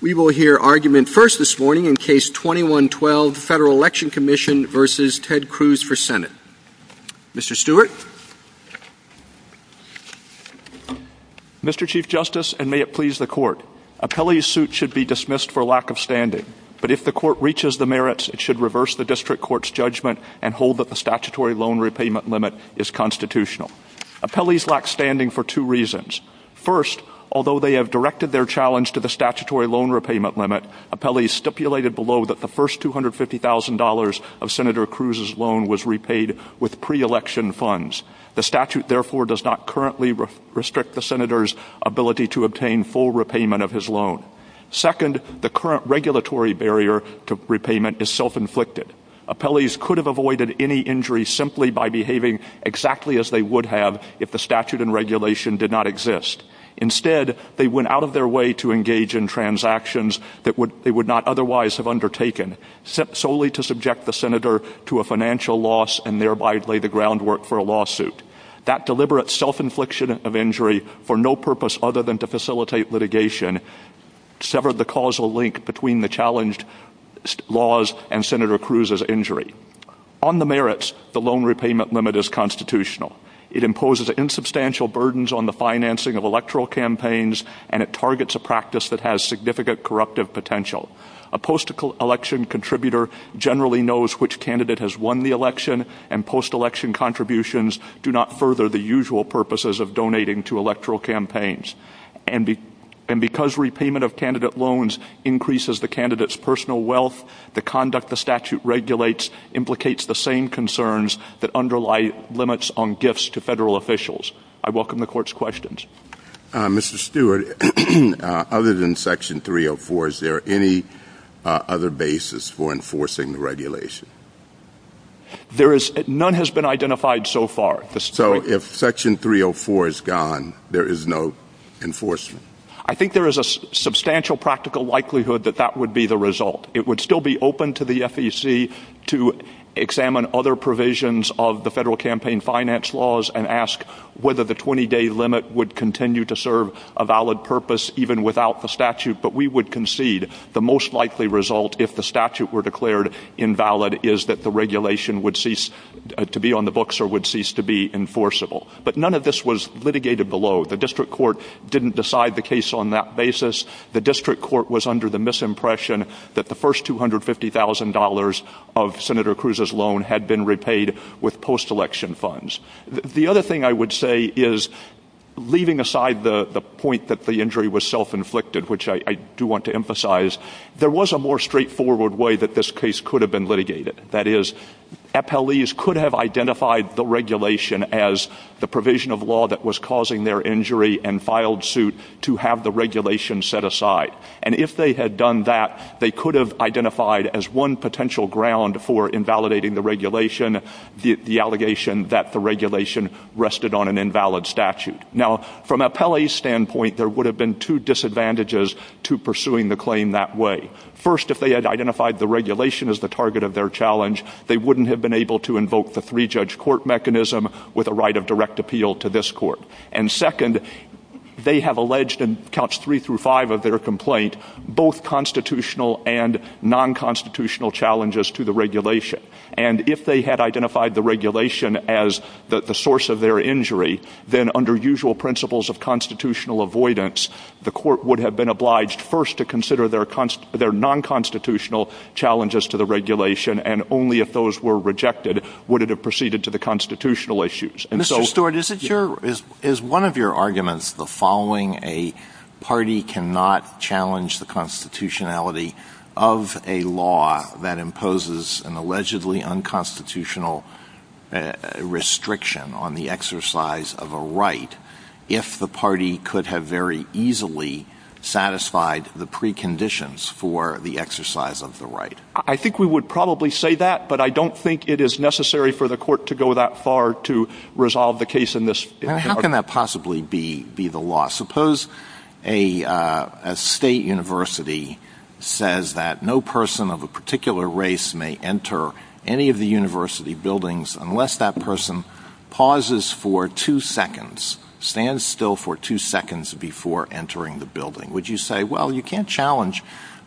We will hear argument first this morning in Case 21-12, Federal Election Commission v. Ted Cruz for Senate. Mr. Stewart. Mr. Chief Justice, and may it please the Court, Appellees' suit should be dismissed for lack of standing, but if the Court reaches the merits, it should reverse the District Court's judgment and hold that the statutory loan repayment limit is constitutional. Appellees lack standing for two reasons. First, although they have directed their challenge to the statutory loan repayment limit, appellees stipulated below that the first $250,000 of Senator Cruz's loan was repaid with pre-election funds. The statute, therefore, does not currently restrict the Senator's ability to obtain full repayment of his loan. Second, the current regulatory barrier to repayment is self-inflicted. Appellees could have avoided any injury simply by behaving exactly as they would have if the statute and regulation did not exist. Instead, they went out of their way to engage in transactions that they would not otherwise have undertaken, solely to subject the Senator to a financial loss and thereby lay the groundwork for a lawsuit. That deliberate self-infliction of injury, for no purpose other than to facilitate litigation, severed the causal link between the challenged laws and Senator Cruz's injury. On the merits, the loan repayment limit is constitutional. It imposes insubstantial burdens on the financing of electoral campaigns, and it targets a practice that has significant corruptive potential. A post-election contributor generally knows which candidate has won the election, and post-election contributions do not further the usual purposes of donating to electoral campaigns. And because repayment of candidate loans increases the candidate's personal wealth, the conduct the statute regulates implicates the same concerns that underlie limits on gifts to federal officials. I welcome the Court's questions. Mr. Stewart, other than Section 304, is there any other basis for enforcing the regulation? None has been identified so far. So if Section 304 is gone, there is no enforcement? I think there is a substantial practical likelihood that that would be the result. It would still be open to the FEC to examine other provisions of the federal campaign finance laws and ask whether the 20-day limit would continue to serve a valid purpose even without the statute, but we would concede the most likely result, if the statute were declared invalid, is that the regulation would cease to be on the books or would cease to be enforceable. But none of this was litigated below. The district court didn't decide the case on that basis. The district court was under the misimpression that the first $250,000 of Senator Cruz's loan had been repaid with post-election funds. The other thing I would say is, leaving aside the point that the injury was self-inflicted, which I do want to emphasize, there was a more straightforward way that this case could have been litigated. That is, appellees could have identified the regulation as the provision of law that was causing their injury and filed suit to have the regulation set aside. And if they had done that, they could have identified as one potential ground for invalidating the regulation the allegation that the regulation rested on an invalid statute. Now, from an appellee's standpoint, there would have been two disadvantages to pursuing the claim that way. First, if they had identified the regulation as the target of their challenge, they wouldn't have been able to invoke the three-judge court mechanism with a right of direct appeal to this court. And second, they have alleged in counts three through five of their complaint both constitutional and non-constitutional challenges to the regulation. And if they had identified the regulation as the source of their injury, then under usual principles of constitutional avoidance, the court would have been obliged first to consider their non-constitutional challenges to the regulation, and only if those were rejected would it have proceeded to the constitutional issues. Mr. Stewart, is one of your arguments the following? A party cannot challenge the constitutionality of a law that imposes an allegedly unconstitutional restriction on the exercise of a right if the party could have very easily satisfied the preconditions for the exercise of the right? I think we would probably say that, but I don't think it is necessary for the court to go that far to resolve the case in this way. How can that possibly be the law? Suppose a state university says that no person of a particular race may enter any of the university buildings unless that person pauses for two seconds, stands still for two seconds before entering the building. Would you say, well, you can't challenge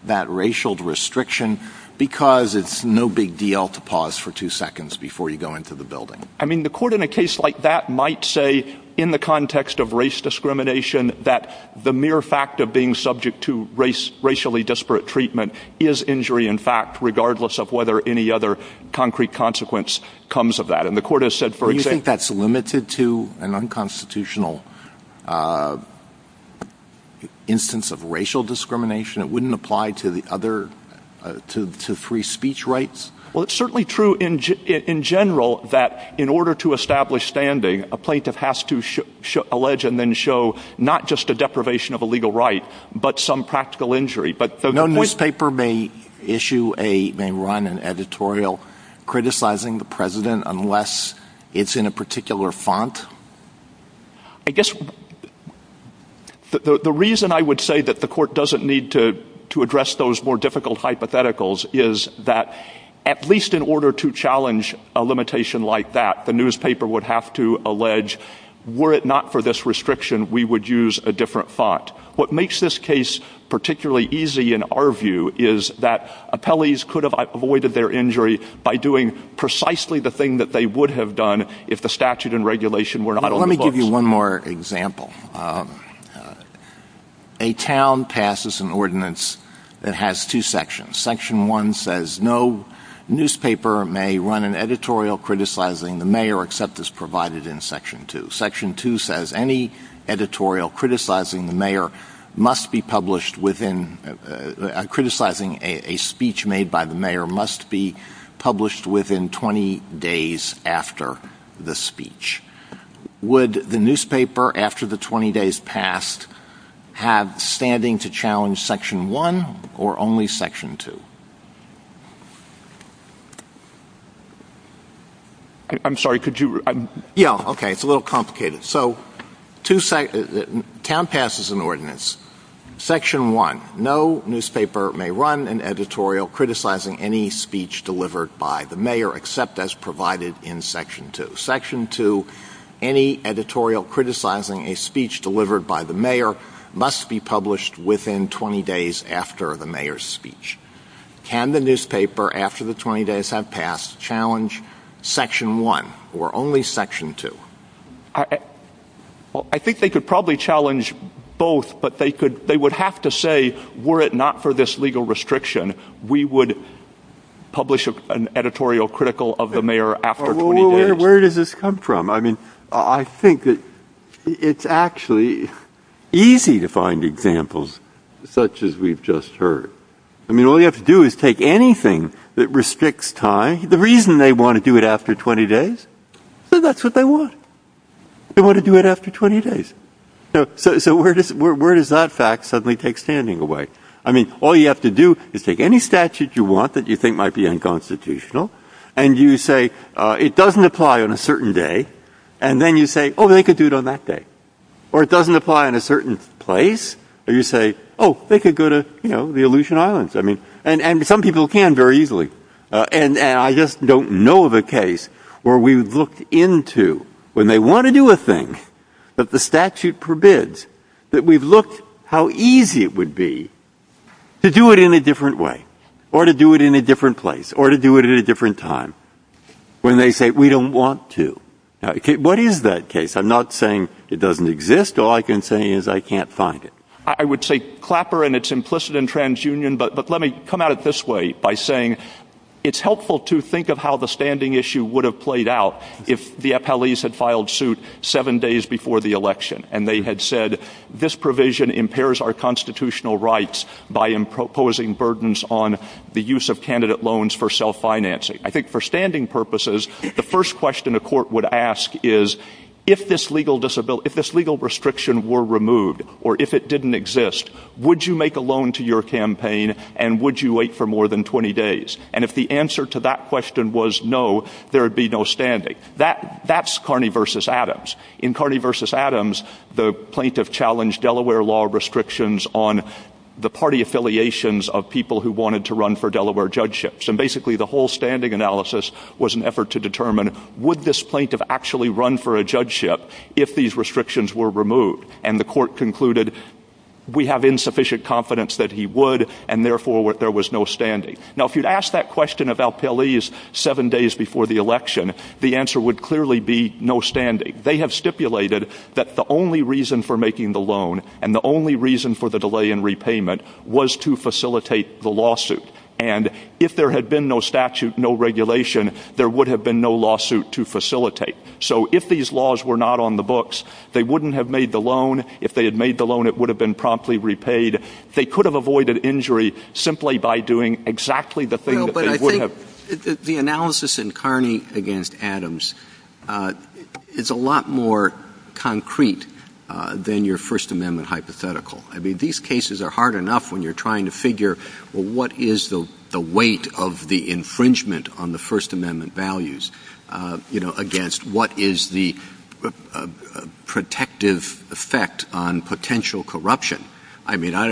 that racial restriction because it's no big deal to pause for two seconds before you go into the building? I mean, the court in a case like that might say, in the context of race discrimination, that the mere fact of being subject to racially disparate treatment is injury in fact, regardless of whether any other concrete consequence comes of that. Do you think that's limited to an unconstitutional instance of racial discrimination? It wouldn't apply to free speech rights? Well, it's certainly true in general that in order to establish standing, a plaintiff has to allege and then show not just a deprivation of a legal right, but some practical injury. No newspaper may run an editorial criticizing the president unless it's in a particular font? I guess the reason I would say that the court doesn't need to address those more difficult hypotheticals is that at least in order to challenge a limitation like that, the newspaper would have to allege, were it not for this restriction, we would use a different font. What makes this case particularly easy in our view is that appellees could have avoided their injury by doing precisely the thing that they would have done if the statute and regulation were not on the books. Let me give you one more example. A town passes an ordinance that has two sections. Section 1 says no newspaper may run an editorial criticizing the mayor except as provided in Section 2. Section 2 says any editorial criticizing a speech made by the mayor must be published within 20 days after the speech. Would the newspaper, after the 20 days passed, have standing to challenge Section 1 or only Section 2? I'm sorry, could you repeat that? Yeah, okay, it's a little complicated. So, town passes an ordinance. Section 1, no newspaper may run an editorial criticizing any speech delivered by the mayor except as provided in Section 2. Section 2, any editorial criticizing a speech delivered by the mayor must be published within 20 days after the mayor's speech. Can the newspaper, after the 20 days have passed, challenge Section 1 or only Section 2? I think they could probably challenge both, but they would have to say, were it not for this legal restriction, we would publish an editorial critical of the mayor after 20 days. Where does this come from? I mean, I think that it's actually easy to find examples such as we've just heard. I mean, all you have to do is take anything that restricts time. The reason they want to do it after 20 days is because that's what they want. They want to do it after 20 days. So, where does that fact suddenly take standing away? I mean, all you have to do is take any statute you want that you think might be unconstitutional, and you say, it doesn't apply on a certain day. And then you say, oh, they could do it on that day. Or it doesn't apply in a certain place. Or you say, oh, they could go to, you know, the Aleutian Islands. I mean, and some people can very easily. And I just don't know of a case where we've looked into, when they want to do a thing, that the statute forbids, that we've looked how easy it would be to do it in a different way or to do it in a different place or to do it at a different time when they say, we don't want to. What is that case? I'm not saying it doesn't exist. All I can say is I can't find it. I would say Clapper, and it's implicit in TransUnion, but let me come at it this way by saying it's helpful to think of how the standing issue would have played out if the appellees had filed suit seven days before the election and they had said, this provision impairs our constitutional rights by imposing burdens on the use of candidate loans for self-financing. I think for standing purposes, the first question a court would ask is, if this legal restriction were removed or if it didn't exist, would you make a loan to your campaign and would you wait for more than 20 days? And if the answer to that question was no, there would be no standing. That's Carney v. Adams. In Carney v. Adams, the plaintiff challenged Delaware law restrictions on the party affiliations of people who wanted to run for Delaware judgeships. And basically the whole standing analysis was an effort to determine, would this plaintiff actually run for a judgeship if these restrictions were removed? And the court concluded, we have insufficient confidence that he would and therefore there was no standing. Now if you'd asked that question of appellees seven days before the election, the answer would clearly be no standing. They have stipulated that the only reason for making the loan and the only reason for the delay in repayment was to facilitate the lawsuit. And if there had been no statute, no regulation, there would have been no lawsuit to facilitate. So if these laws were not on the books, they wouldn't have made the loan. If they had made the loan, it would have been promptly repaid. They could have avoided injury simply by doing exactly the thing that they would have. The analysis in Carney v. Adams is a lot more concrete than your First Amendment hypothetical. I mean, these cases are hard enough when you're trying to figure, well, what is the weight of the infringement on the First Amendment values against what is the protective effect on potential corruption? I mean, I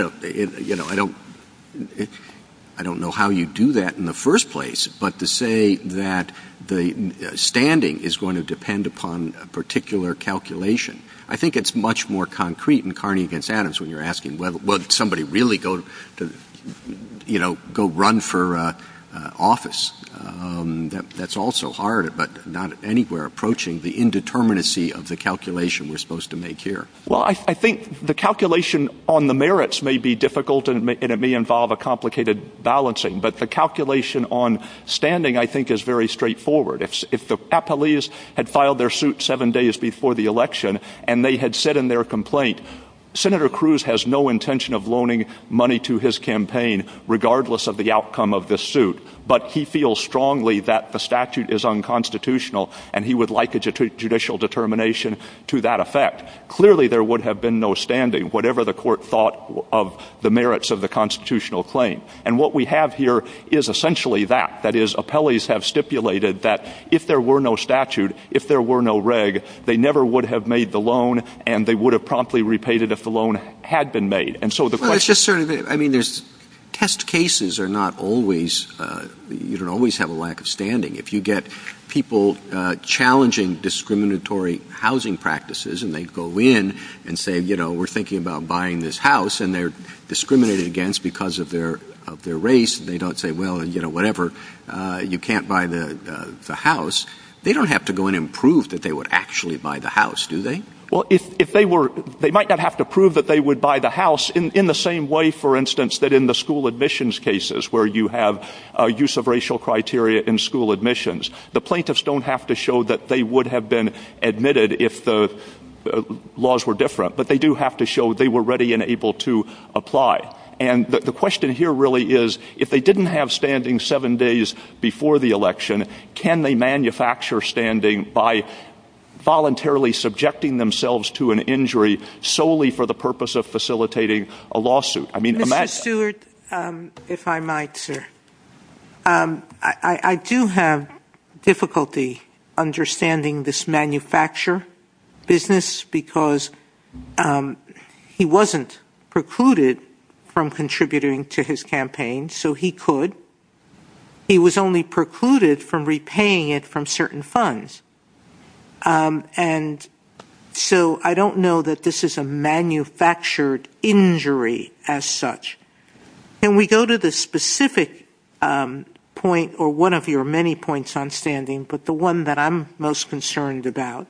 don't know how you do that in the first place, but to say that the standing is going to depend upon a particular calculation, I think it's much more concrete in Carney v. Adams when you're asking, well, did somebody really go run for office? That's also hard, but not anywhere approaching the indeterminacy of the calculation we're supposed to make here. Well, I think the calculation on the merits may be difficult, and it may involve a complicated balancing, but the calculation on standing, I think, is very straightforward. If the police had filed their suit seven days before the election, and they had said in their complaint, Senator Cruz has no intention of loaning money to his campaign, regardless of the outcome of this suit, but he feels strongly that the statute is unconstitutional, and he would like a judicial determination to that effect. Clearly there would have been no standing, whatever the court thought of the merits of the constitutional claim. And what we have here is essentially that. That is, appellees have stipulated that if there were no statute, if there were no reg, they never would have made the loan, and they would have promptly repaid it if the loan had been made. I mean, test cases are not always, you don't always have a lack of standing. If you get people challenging discriminatory housing practices, and they go in and say, you know, we're thinking about buying this house, and they're discriminated against because of their race, and they don't say, well, you know, whatever, you can't buy the house, they don't have to go in and prove that they would actually buy the house, do they? Well, they might not have to prove that they would buy the house in the same way, for instance, that in the school admissions cases, where you have use of racial criteria in school admissions. The plaintiffs don't have to show that they would have been admitted if the laws were different, but they do have to show they were ready and able to apply. And the question here really is, if they didn't have standing seven days before the election, can they manufacture standing by voluntarily subjecting themselves to an injury solely for the purpose of facilitating a lawsuit? Mr. Stewart, if I might, sir. I do have difficulty understanding this manufacture business because he wasn't precluded from contributing to his campaign, so he could. He was only precluded from repaying it from certain funds. And so I don't know that this is a manufactured injury as such. Can we go to the specific point, or one of your many points on standing, but the one that I'm most concerned about,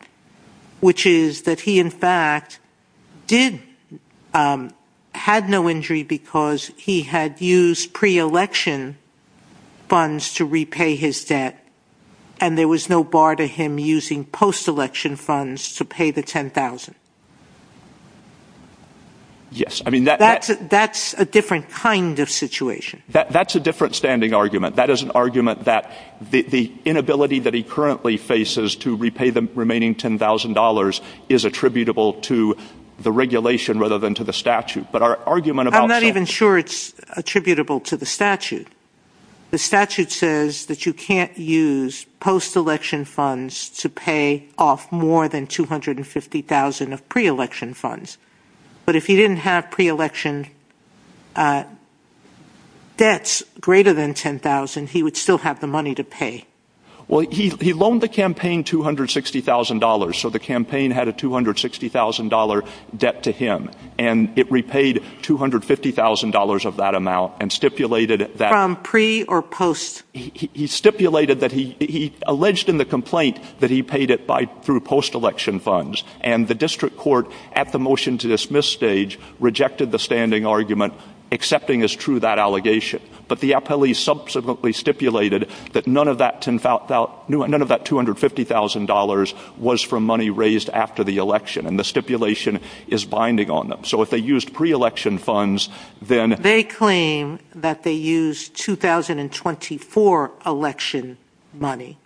which is that he, in fact, did have no injury because he had used pre-election funds to repay his debt and there was no bar to him using post-election funds to pay the $10,000. Yes. That's a different kind of situation. That's a different standing argument. That is an argument that the inability that he currently faces to repay the remaining $10,000 is attributable to the regulation rather than to the statute. I'm not even sure it's attributable to the statute. The statute says that you can't use post-election funds to pay off more than $250,000 of pre-election funds. But if he didn't have pre-election debts greater than $10,000, he would still have the money to pay. Well, he loaned the campaign $260,000, so the campaign had a $260,000 debt to him, and it repaid $250,000 of that amount and stipulated that... From pre or post? He alleged in the complaint that he paid it through post-election funds and the district court, at the motion-to-dismiss stage, rejected the standing argument, accepting as true that allegation. But the appellee subsequently stipulated that none of that $250,000 was from money raised after the election, and the stipulation is binding on them. So if they used pre-election funds, then... They claim that they used 2024 election money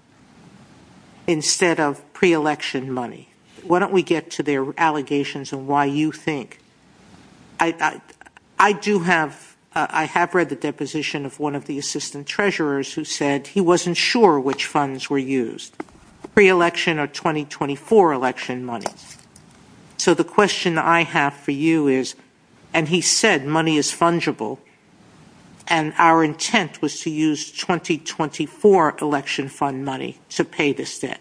instead of pre-election money. Why don't we get to their allegations and why you think... I do have... I have read the deposition of one of the assistant treasurers who said he wasn't sure which funds were used. Pre-election or 2024 election money? So the question I have for you is, and he said money is fungible, and our intent was to use 2024 election fund money to pay this debt.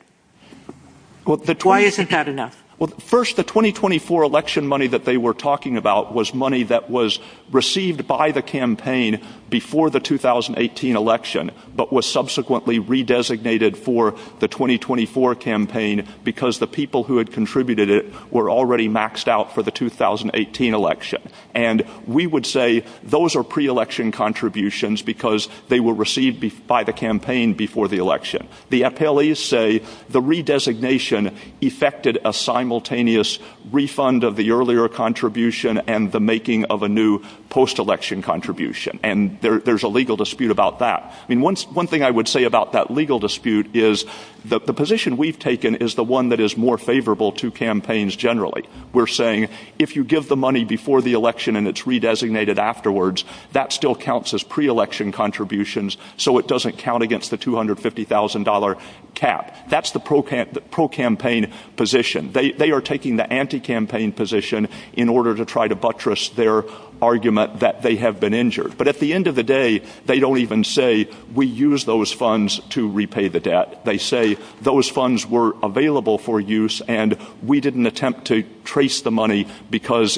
Why isn't that enough? Well, first, the 2024 election money that they were talking about was money that was received by the campaign before the 2018 election but was subsequently re-designated for the 2024 campaign because the people who had contributed it were already maxed out for the 2018 election. And we would say those are pre-election contributions because they were received by the campaign before the election. The appellees say the re-designation effected a simultaneous refund of the earlier contribution and the making of a new post-election contribution. And there's a legal dispute about that. One thing I would say about that legal dispute is the position we've taken is the one that is more favorable to campaigns generally. We're saying if you give the money before the election and it's re-designated afterwards that still counts as pre-election contributions so it doesn't count against the $250,000 cap. That's the pro-campaign position. They are taking the anti-campaign position in order to try to buttress their argument that they have been injured. But at the end of the day, they don't even say, we used those funds to repay the debt. They say those funds were available for use and we didn't attempt to trace the money because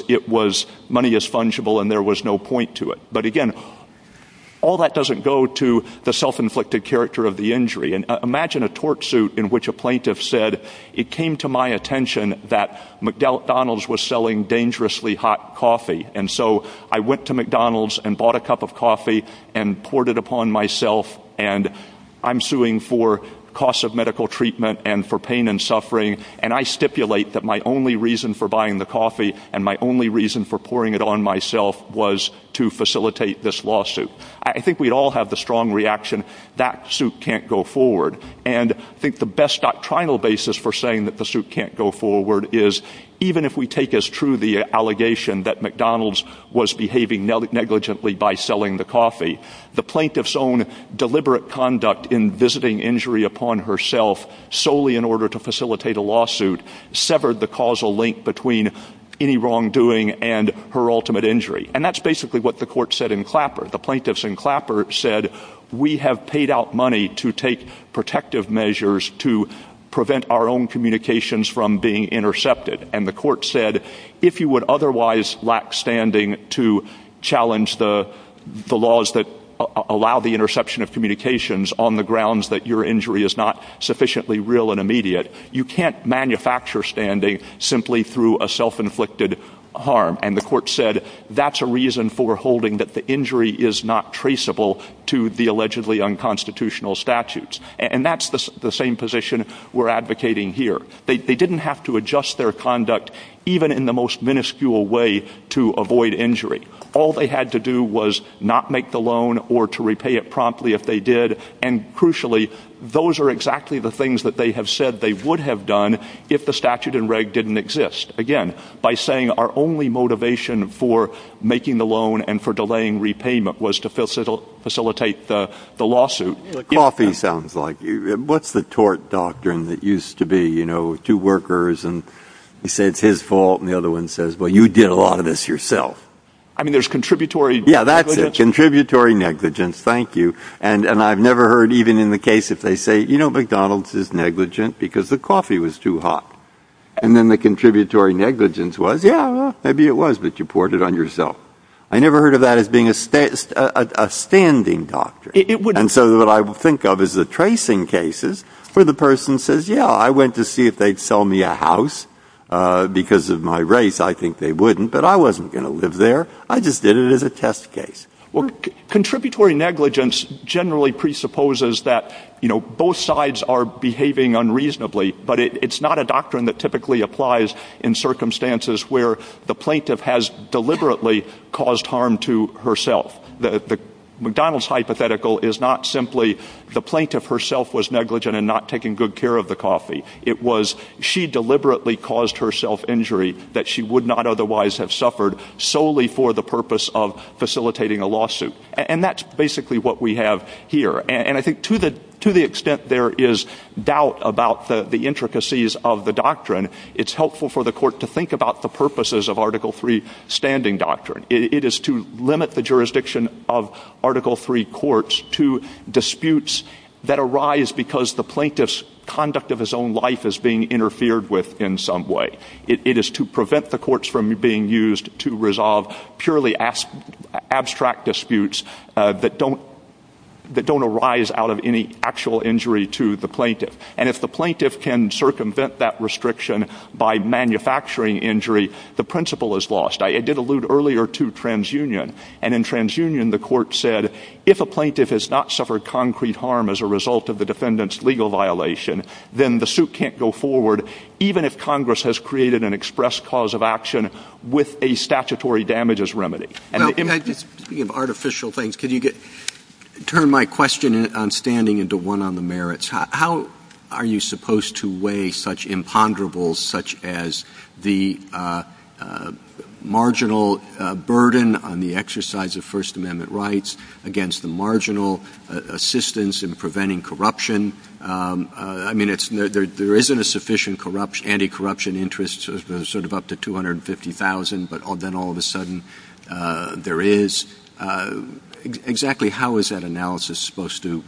money is fungible and there was no point to it. But again, all that doesn't go to the self-inflicted character of the injury. Imagine a torch suit in which a plaintiff said, it came to my attention that McDonald's was selling dangerously hot coffee and so I went to McDonald's and bought a cup of coffee and poured it upon myself and I'm suing for costs of medical treatment and for pain and suffering and I stipulate that my only reason for buying the coffee and my only reason for pouring it on myself was to facilitate this lawsuit. I think we all have the strong reaction that suit can't go forward and I think the best doctrinal basis for saying that the suit can't go forward is even if we take as true the allegation that McDonald's was behaving negligently by selling the coffee, the plaintiff's own deliberate conduct in visiting injury upon herself solely in order to facilitate a lawsuit severed the causal link between any wrongdoing and her ultimate injury. And that's basically what the court said in Clapper. The plaintiffs in Clapper said, we have paid out money to take protective measures to prevent our own communications from being intercepted and the court said, if you would otherwise lack standing to challenge the laws that allow the interception of communications on the grounds that your injury is not sufficiently real and immediate, you can't manufacture standing simply through a self-inflicted harm. And the court said, that's a reason for holding that the injury is not traceable to the allegedly unconstitutional statutes. And that's the same position we're advocating here. They didn't have to adjust their conduct even in the most minuscule way to avoid injury. All they had to do was not make the loan or to repay it promptly if they did and crucially, those are exactly the things that they have said they would have done if the statute and reg didn't exist. Again, by saying our only motivation for making the loan and for delaying repayment was to facilitate the lawsuit. Coffee sounds like you. What's the tort doctrine that used to be, you know, two workers and you say it's his fault and the other one says, well, you did a lot of this yourself. I mean, there's contributory negligence. Yeah, that's it. Contributory negligence. Thank you. And I've never heard even in the case if they say, you know, McDonald's is negligent because the coffee was too hot. And then the contributory negligence was, yeah, maybe it was that you poured it on yourself. I never heard of that as being a standing doctor. And so what I think of is the tracing cases where the person says, yeah, I went to see if they'd sell me a house because of my race. I think they wouldn't, but I wasn't going to live there. I just did it as a test case. Well, contributory negligence generally presupposes that, you know, both sides are behaving unreasonably, but it's not a doctrine that typically applies in circumstances where the plaintiff has deliberately caused harm to herself. The McDonald's hypothetical is not simply the plaintiff herself was negligent and not taking good care of the coffee. It was she deliberately caused herself injury that she would not otherwise have suffered solely for the purpose of facilitating a lawsuit. And that's basically what we have here. And I think to the extent there is doubt about the intricacies of the doctrine, it's helpful for the court to think about the purposes of Article III standing doctrine. It is to limit the jurisdiction of Article III courts to disputes that arise because the plaintiff's conduct of his own life is being interfered with in some way. It is to prevent the courts from being used to resolve purely abstract disputes that don't arise out of any actual injury to the plaintiff. And if the plaintiff can circumvent that restriction by manufacturing injury, the principle is lost. I did allude earlier to TransUnion, and in TransUnion the court said, if a plaintiff has not suffered concrete harm as a result of the defendant's legal violation, then the suit can't go forward even if Congress has created an express cause of action with a statutory damages remedy. Speaking of artificial things, could you turn my question on standing into one on the merits? How are you supposed to weigh such imponderables such as the marginal burden on the exercise of First Amendment rights against the marginal assistance in preventing corruption? I mean, there isn't a sufficient anti-corruption interest, sort of up to $250,000, but then all of a sudden there is. Exactly how is that analysis supposed to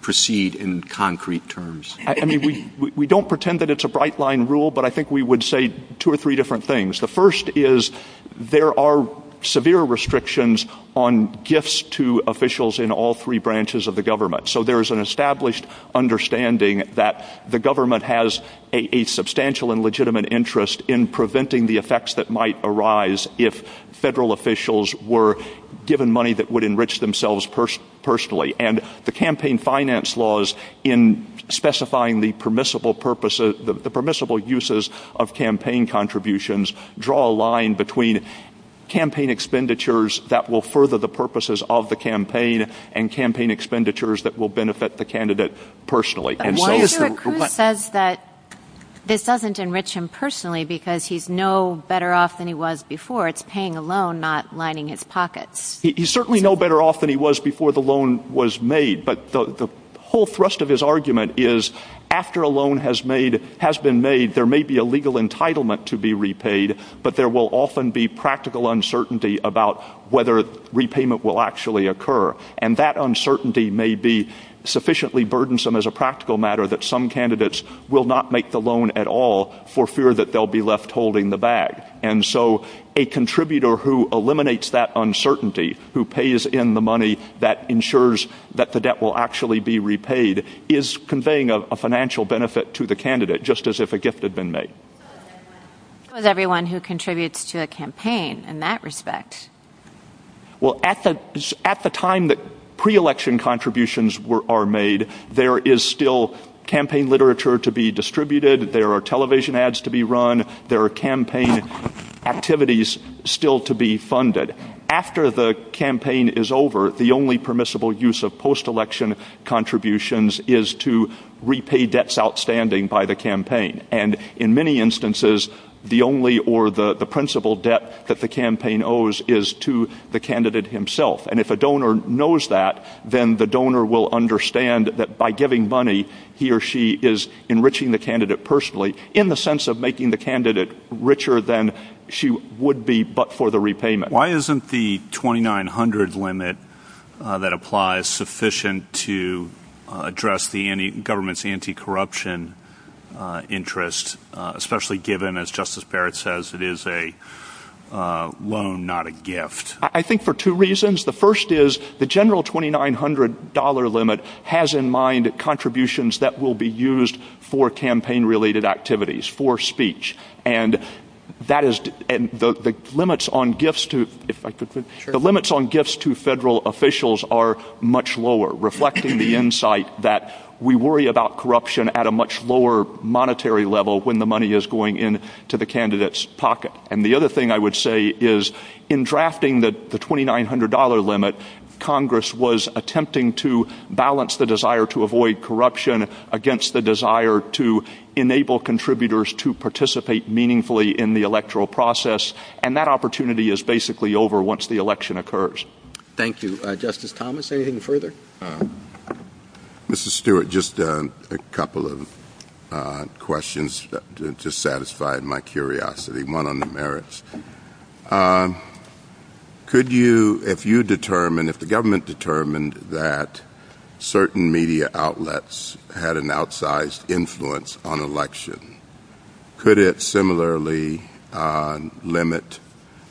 proceed in concrete terms? I mean, we don't pretend that it's a bright-line rule, but I think we would say two or three different things. The first is there are severe restrictions on gifts to officials in all three branches of the government. So there is an established understanding that the government has a substantial and legitimate interest in preventing the effects that might arise if federal officials were given money that would enrich themselves personally. And the campaign finance laws, in specifying the permissible uses of campaign contributions, draw a line between campaign expenditures that will further the purposes of the campaign and campaign expenditures that will benefit the candidate personally. Why is it that Cruz says that this doesn't enrich him personally because he's no better off than he was before? It's paying a loan, not lining his pockets. He's certainly no better off than he was before the loan was made, but the whole thrust of his argument is after a loan has been made, there may be a legal entitlement to be repaid, but there will often be practical uncertainty about whether repayment will actually occur. And that uncertainty may be sufficiently burdensome as a practical matter that some candidates will not make the loan at all for fear that they'll be left holding the bag. And so a contributor who eliminates that uncertainty, who pays in the money that ensures that the debt will actually be repaid, is conveying a financial benefit to the candidate, just as if a gift had been made. What about everyone who contributes to the campaign in that respect? Well, at the time that pre-election contributions are made, there is still campaign literature to be distributed. There are television ads to be run. There are campaign activities still to be funded. After the campaign is over, the only permissible use of post-election contributions is to repay debts outstanding by the campaign. And in many instances, the only or the principal debt that the campaign owes is to the candidate himself. And if a donor knows that, then the donor will understand that by giving money, he or she is enriching the candidate personally in the sense of making the candidate richer than she would be but for the repayment. Why isn't the $2,900 limit that applies sufficient to address the government's anti-corruption interest, especially given, as Justice Barrett says, it is a loan, not a gift? I think for two reasons. The first is the general $2,900 limit has in mind contributions that will be used for campaign-related activities, for speech. And the limits on gifts to federal officials are much lower, reflecting the insight that we worry about corruption at a much lower monetary level when the money is going into the candidate's pocket. And the other thing I would say is in drafting the $2,900 limit, Congress was attempting to balance the desire to avoid corruption against the desire to enable contributors to participate meaningfully in the electoral process, and that opportunity is basically over once the election occurs. Thank you. Justice Thomas, anything further? Mr. Stewart, just a couple of questions to satisfy my curiosity. One on the merits. If the government determined that certain media outlets had an outsized influence on election, could it similarly limit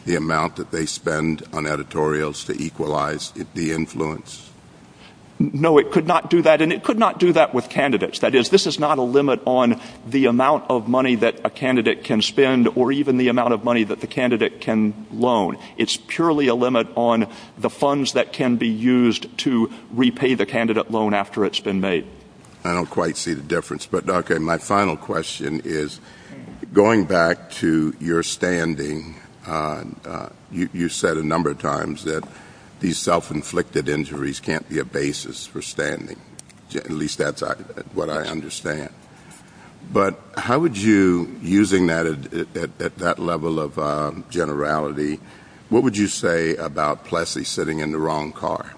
the amount that they spend on editorials to equalize the influence? No, it could not do that, and it could not do that with candidates. That is, this is not a limit on the amount of money that a candidate can spend or even the amount of money that the candidate can loan. It's purely a limit on the funds that can be used to repay the candidate loan after it's been made. I don't quite see the difference. But, Dr., my final question is, going back to your standing, you said a number of times that these self-inflicted injuries can't be a basis for standing. At least that's what I understand. But how would you, using that at that level of generality, what would you say about Plessy sitting in the wrong car?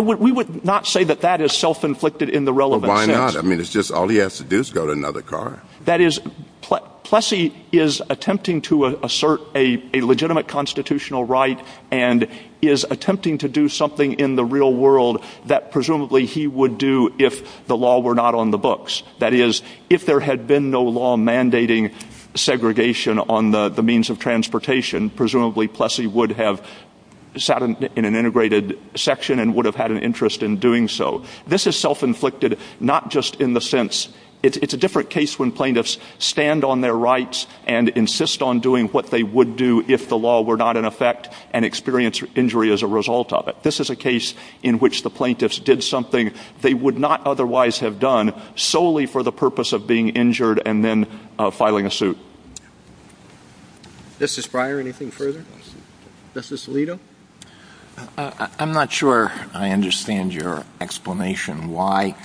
We would not say that that is self-inflicted in the relevant sense. Well, why not? I mean, it's just all he has to do is go to another car. That is, Plessy is attempting to assert a legitimate constitutional right and is attempting to do something in the real world that presumably he would do if the law were not on the books. That is, if there had been no law mandating segregation on the means of transportation, presumably Plessy would have sat in an integrated section and would have had an interest in doing so. This is self-inflicted not just in the sense, it's a different case when plaintiffs stand on their rights and insist on doing what they would do if the law were not in effect and experience injury as a result of it. This is a case in which the plaintiffs did something they would not otherwise have done solely for the purpose of being injured and then filing a suit. Justice Breyer, anything further? Justice Alito? I'm not sure I understand your explanation why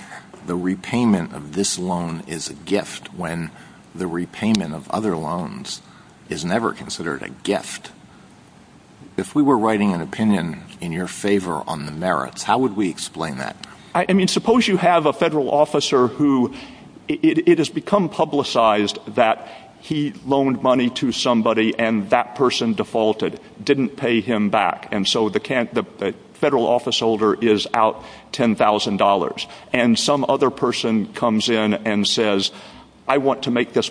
the repayment of this loan is a gift when the repayment of other loans is never considered a gift. If we were writing an opinion in your favor on the merits, how would we explain that? I mean, suppose you have a federal officer who, it has become publicized that he loaned money to somebody and that person defaulted, didn't pay him back. And so the federal officeholder is out $10,000. And some other person comes in and says, I want to make this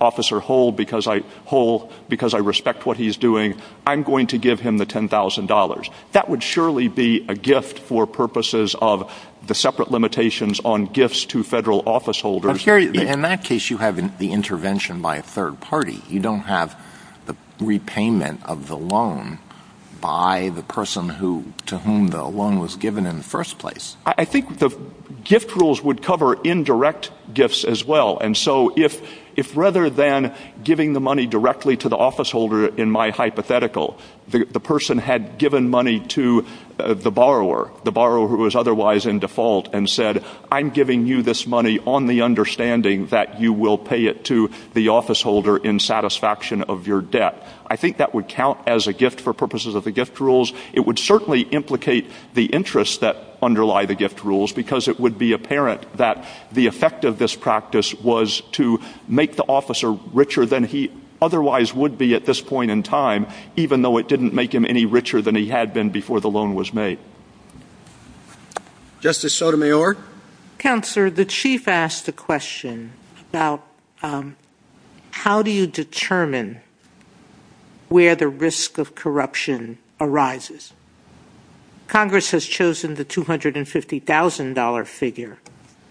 officer whole because I respect what he's doing. I'm going to give him the $10,000. That would surely be a gift for purposes of the separate limitations on gifts to federal officeholders. In that case, you have the intervention by a third party. You don't have the repayment of the loan by the person to whom the loan was given in the first place. I think the gift rules would cover indirect gifts as well. And so if rather than giving the money directly to the officeholder in my hypothetical, the person had given money to the borrower, the borrower who was otherwise in default and said, I'm giving you this money on the understanding that you will pay it to the officeholder in satisfaction of your debt. I think that would count as a gift for purposes of the gift rules. It would certainly implicate the interests that underlie the gift rules because it would be apparent that the effect of this practice was to make the officer richer than he otherwise would be at this point in time, even though it didn't make him any richer than he had been before the loan was made. Justice Sotomayor? Counselor, the chief asked a question about how do you determine where the risk of corruption arises? Congress has chosen the $250,000 figure.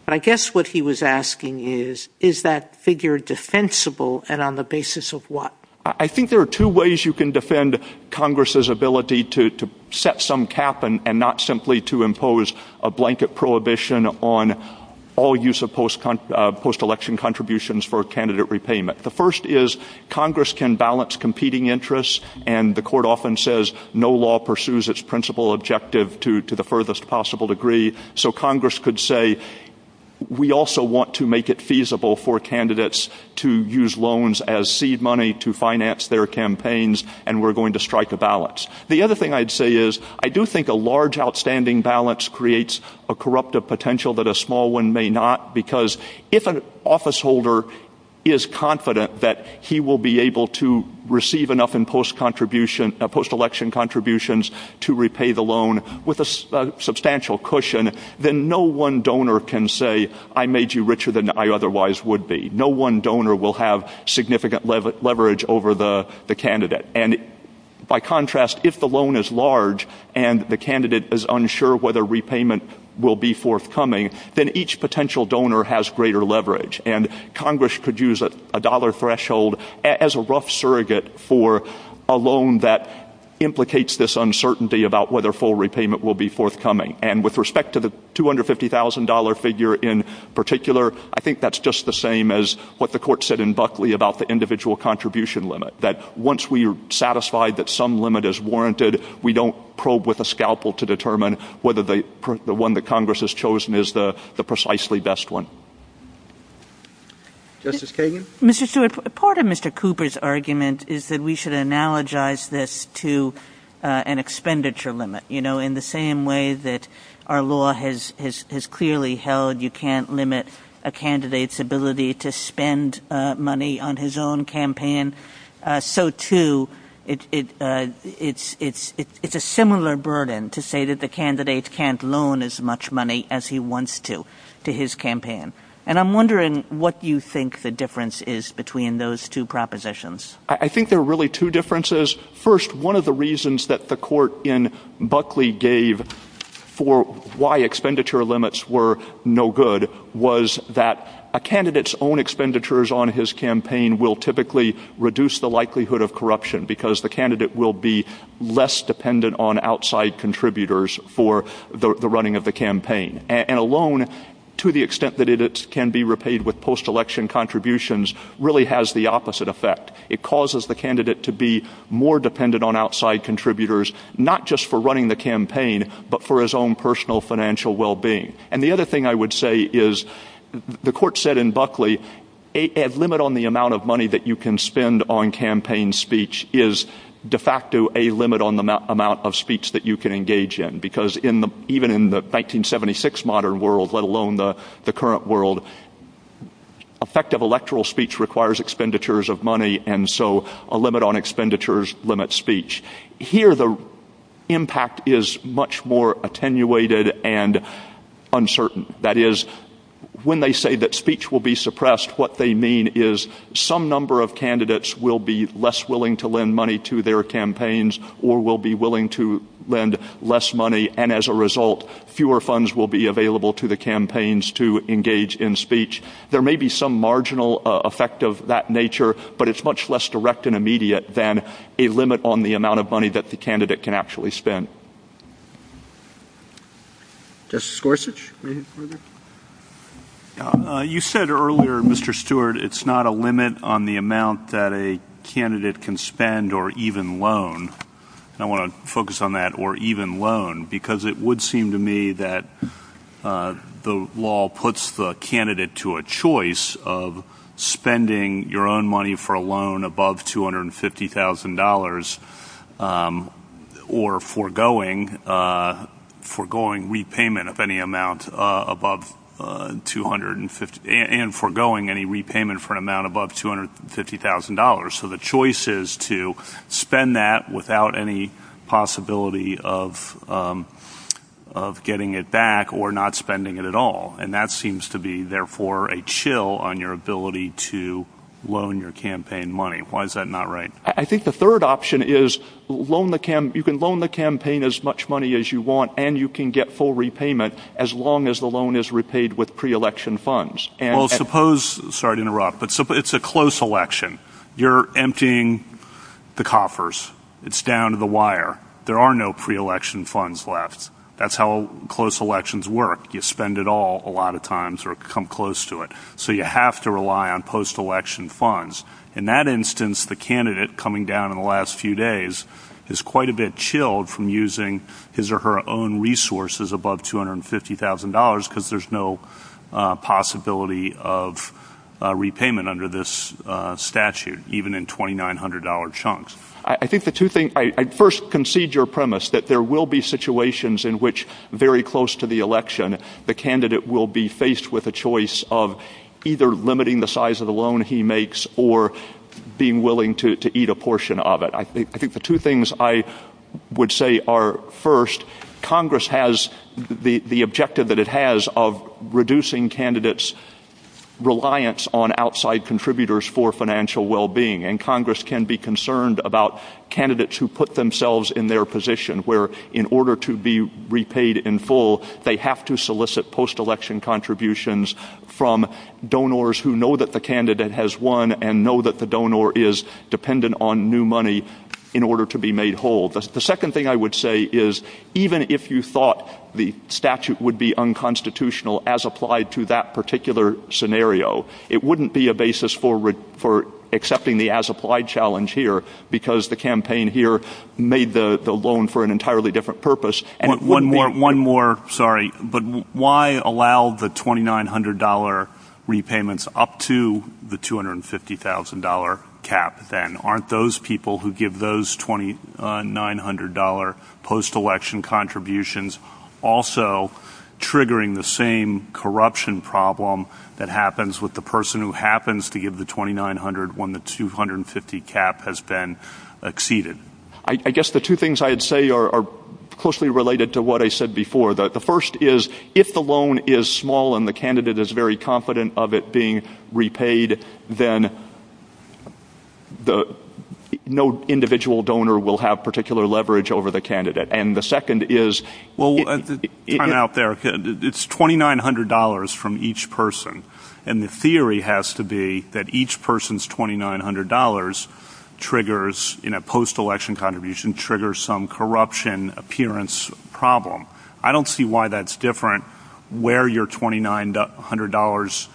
But I guess what he was asking is, is that figure defensible and on the basis of what? I think there are two ways you can defend Congress's ability to set some cap and not simply to impose a blanket prohibition on all use of post election contributions for candidate repayment. The first is Congress can balance competing interests. And the court often says no law pursues its principal objective to the furthest possible degree. So Congress could say we also want to make it feasible for candidates to use loans as seed money to finance their campaigns and we're going to strike the balance. The other thing I'd say is I do think a large outstanding balance creates a corruptive potential that a small one may not because if an officeholder is confident that he will be able to receive enough in post election contributions to repay the loan with a substantial cushion, then no one donor can say I made you richer than I otherwise would be. No one donor will have significant leverage over the candidate. And by contrast, if the loan is large and the candidate is unsure whether repayment will be forthcoming, then each potential donor has greater leverage. And Congress could use a dollar threshold as a rough surrogate for a loan that implicates this uncertainty about whether full repayment will be forthcoming. And with respect to the $250,000 figure in particular, I think that's just the same as what the court said in Buckley about the individual contribution limit, that once we're satisfied that some limit is warranted, we don't probe with a scalpel to determine whether the one that Congress has chosen is the precisely best one. Justice Kagan? Mr. Stewart, part of Mr. Cooper's argument is that we should analogize this to an expenditure limit. In the same way that our law has clearly held you can't limit a candidate's ability to spend money on his own campaign, so too it's a similar burden to say that the candidate can't loan as much money as he wants to to his campaign. And I'm wondering what you think the difference is between those two propositions. I think there are really two differences. First, one of the reasons that the court in Buckley gave for why expenditure limits were no good was that a candidate's own expenditures on his campaign will typically reduce the likelihood of corruption because the candidate will be less dependent on outside contributors for the running of the campaign. And a loan, to the extent that it can be repaid with post-election contributions, really has the opposite effect. It causes the candidate to be more dependent on outside contributors, not just for running the campaign, but for his own personal financial well-being. And the other thing I would say is the court said in Buckley a limit on the amount of money that you can spend on campaign speech is de facto a limit on the amount of speech that you can engage in, because even in the 1976 modern world, let alone the current world, effective electoral speech requires expenditures of money, and so a limit on expenditures limits speech. Here, the impact is much more attenuated and uncertain. That is, when they say that speech will be suppressed, what they mean is some number of candidates will be less willing to lend money to their campaigns or will be willing to lend less money, and as a result, fewer funds will be available to the campaigns to engage in speech. There may be some marginal effect of that nature, but it's much less direct and immediate than a limit on the amount of money that the candidate can actually spend. Justice Gorsuch? You said earlier, Mr. Stewart, it's not a limit on the amount that a candidate can spend or even loan. I want to focus on that, or even loan, because it would seem to me that the law puts the candidate to a choice of spending your own money for a loan above $250,000 or foregoing repayment of any amount above $250,000. So the choice is to spend that without any possibility of getting it back or not spending it at all, and that seems to be, therefore, a chill on your ability to loan your campaign money. Why is that not right? I think the third option is you can loan the campaign as much money as you want, and you can get full repayment as long as the loan is repaid with pre-election funds. Well, suppose, sorry to interrupt, but suppose it's a close election. You're emptying the coffers. It's down to the wire. There are no pre-election funds left. That's how close elections work. You spend it all a lot of times or come close to it. So you have to rely on post-election funds. In that instance, the candidate coming down in the last few days is quite a bit chilled from using his or her own resources above $250,000 because there's no possibility of repayment under this statute, even in $2,900 chunks. I first concede your premise that there will be situations in which, very close to the election, the candidate will be faced with a choice of either limiting the size of the loan he makes or being willing to eat a portion of it. I think the two things I would say are, first, Congress has the objective that it has of reducing candidates' reliance on outside contributors for financial well-being, and Congress can be concerned about candidates who put themselves in their position where, in order to be repaid in full, they have to solicit post-election contributions from donors who know that the candidate has won and know that the donor is dependent on new money in order to be made whole. The second thing I would say is, even if you thought the statute would be unconstitutional as applied to that particular scenario, it wouldn't be a basis for accepting the as-applied challenge here because the campaign here made the loan for an entirely different purpose. One more, sorry, but why allow the $2,900 repayments up to the $250,000 cap then? Aren't those people who give those $2,900 post-election contributions also triggering the same corruption problem that happens with the person who happens to give the $2,900 when the $250,000 cap has been exceeded? I guess the two things I would say are closely related to what I said before. The first is, if the loan is small and the candidate is very confident of it being repaid, then no individual donor will have particular leverage over the candidate. It's $2,900 from each person, and the theory has to be that each person's $2,900 in a post-election contribution triggers some corruption appearance problem. I don't see why that's different where your $2,900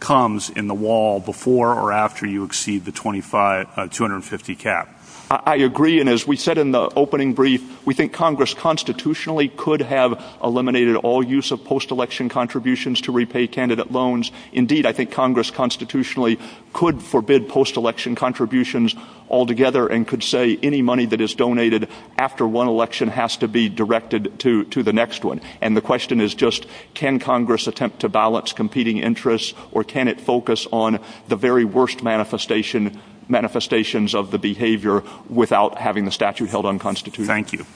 comes in the wall before or after you exceed the $250,000 cap. I agree, and as we said in the opening brief, we think Congress constitutionally could have eliminated all use of post-election contributions to repay candidate loans. Indeed, I think Congress constitutionally could forbid post-election contributions altogether and could say any money that is donated after one election has to be directed to the next one. And the question is just, can Congress attempt to balance competing interests, or can it focus on the very worst manifestations of the behavior without having the statute held unconstitutional? Thank you.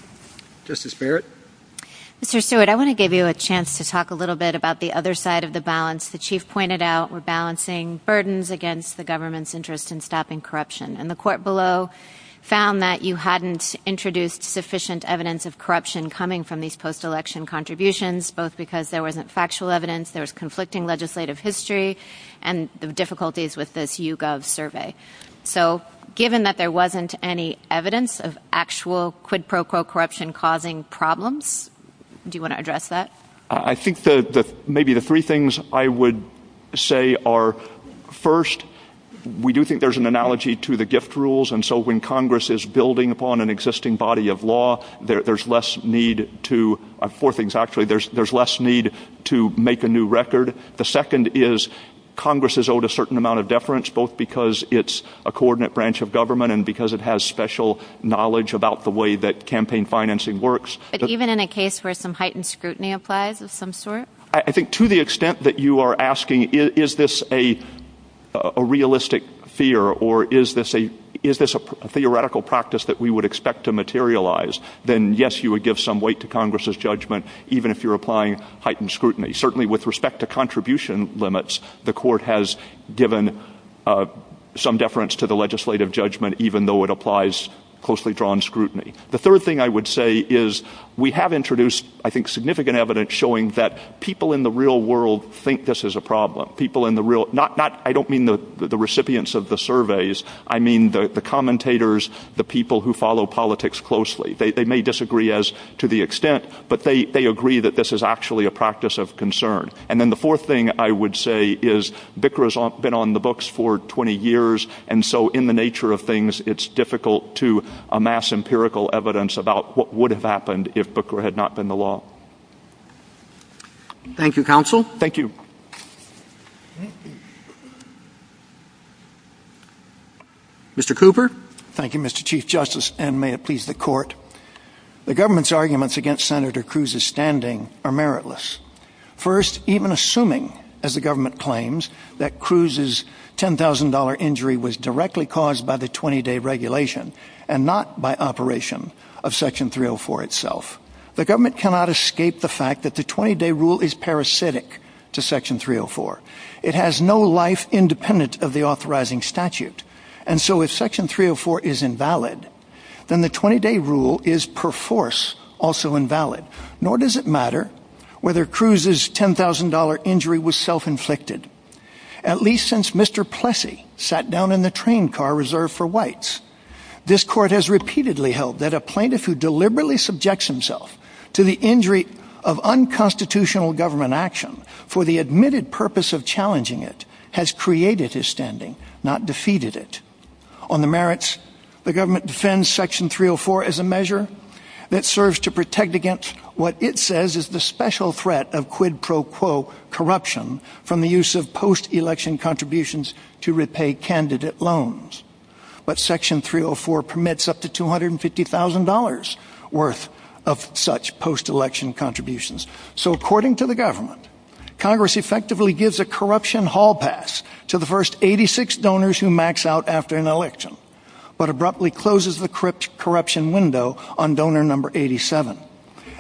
Justice Barrett? Mr. Stewart, I want to give you a chance to talk a little bit about the other side of the balance. The chief pointed out we're balancing burdens against the government's interest in stopping corruption, and the court below found that you hadn't introduced sufficient evidence of corruption coming from these post-election contributions, both because there wasn't factual evidence, there was conflicting legislative history, and the difficulties with this YouGov survey. So given that there wasn't any evidence of actual quid pro quo corruption causing problems, do you want to address that? I think maybe the three things I would say are, first, we do think there's an analogy to the gift rules, and so when Congress is building upon an existing body of law, there's less need to make a new record. The second is Congress is owed a certain amount of deference, both because it's a coordinate branch of government and because it has special knowledge about the way that campaign financing works. But even in a case where some heightened scrutiny applies of some sort? I think to the extent that you are asking, is this a realistic fear, or is this a theoretical practice that we would expect to materialize, then yes, you would give some weight to Congress's judgment, even if you're applying heightened scrutiny. Certainly with respect to contribution limits, the court has given some deference to the legislative judgment, even though it applies closely drawn scrutiny. The third thing I would say is we have introduced, I think, significant evidence showing that people in the real world think this is a problem. I don't mean the recipients of the surveys, I mean the commentators, the people who follow politics closely. They may disagree to the extent, but they agree that this is actually a practice of concern. And then the fourth thing I would say is Bikra's been on the books for 20 years, and so in the nature of things, it's difficult to amass empirical evidence about what would have happened if Bikra had not been the law. Thank you, counsel. Thank you. Mr. Cooper? Thank you, Mr. Chief Justice, and may it please the court. The government's arguments against Senator Cruz's standing are meritless. First, even assuming, as the government claims, that Cruz's $10,000 injury was directly caused by the 20-day regulation and not by operation of Section 304 itself. The government cannot escape the fact that the 20-day rule is parasitic to Section 304. It has no life independent of the authorizing statute. And so if Section 304 is invalid, then the 20-day rule is per force also invalid. Nor does it matter whether Cruz's $10,000 injury was self-inflicted, at least since Mr. Plessy sat down in the train car reserved for whites. This court has repeatedly held that a plaintiff who deliberately subjects himself to the injury of unconstitutional government action for the admitted purpose of challenging it has created his standing, not defeated it. On the merits, the government defends Section 304 as a measure that serves to protect against what it says is the special threat of quid pro quo corruption from the use of post-election contributions to repay candidate loans. But Section 304 permits up to $250,000 worth of such post-election contributions. So according to the government, Congress effectively gives a corruption hall pass to the first 86 donors who max out after an election, but abruptly closes the corruption window on donor number 87.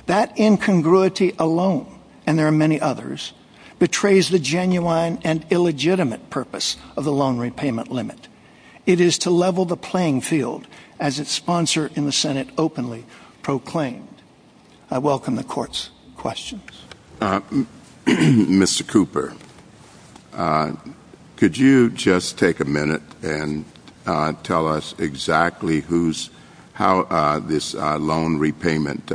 That incongruity alone, and there are many others, betrays the genuine and illegitimate purpose of the loan repayment limit. It is to level the playing field, as its sponsor in the Senate openly proclaimed. I welcome the court's questions. Mr. Cooper, could you just take a minute and tell us exactly how this loan repayment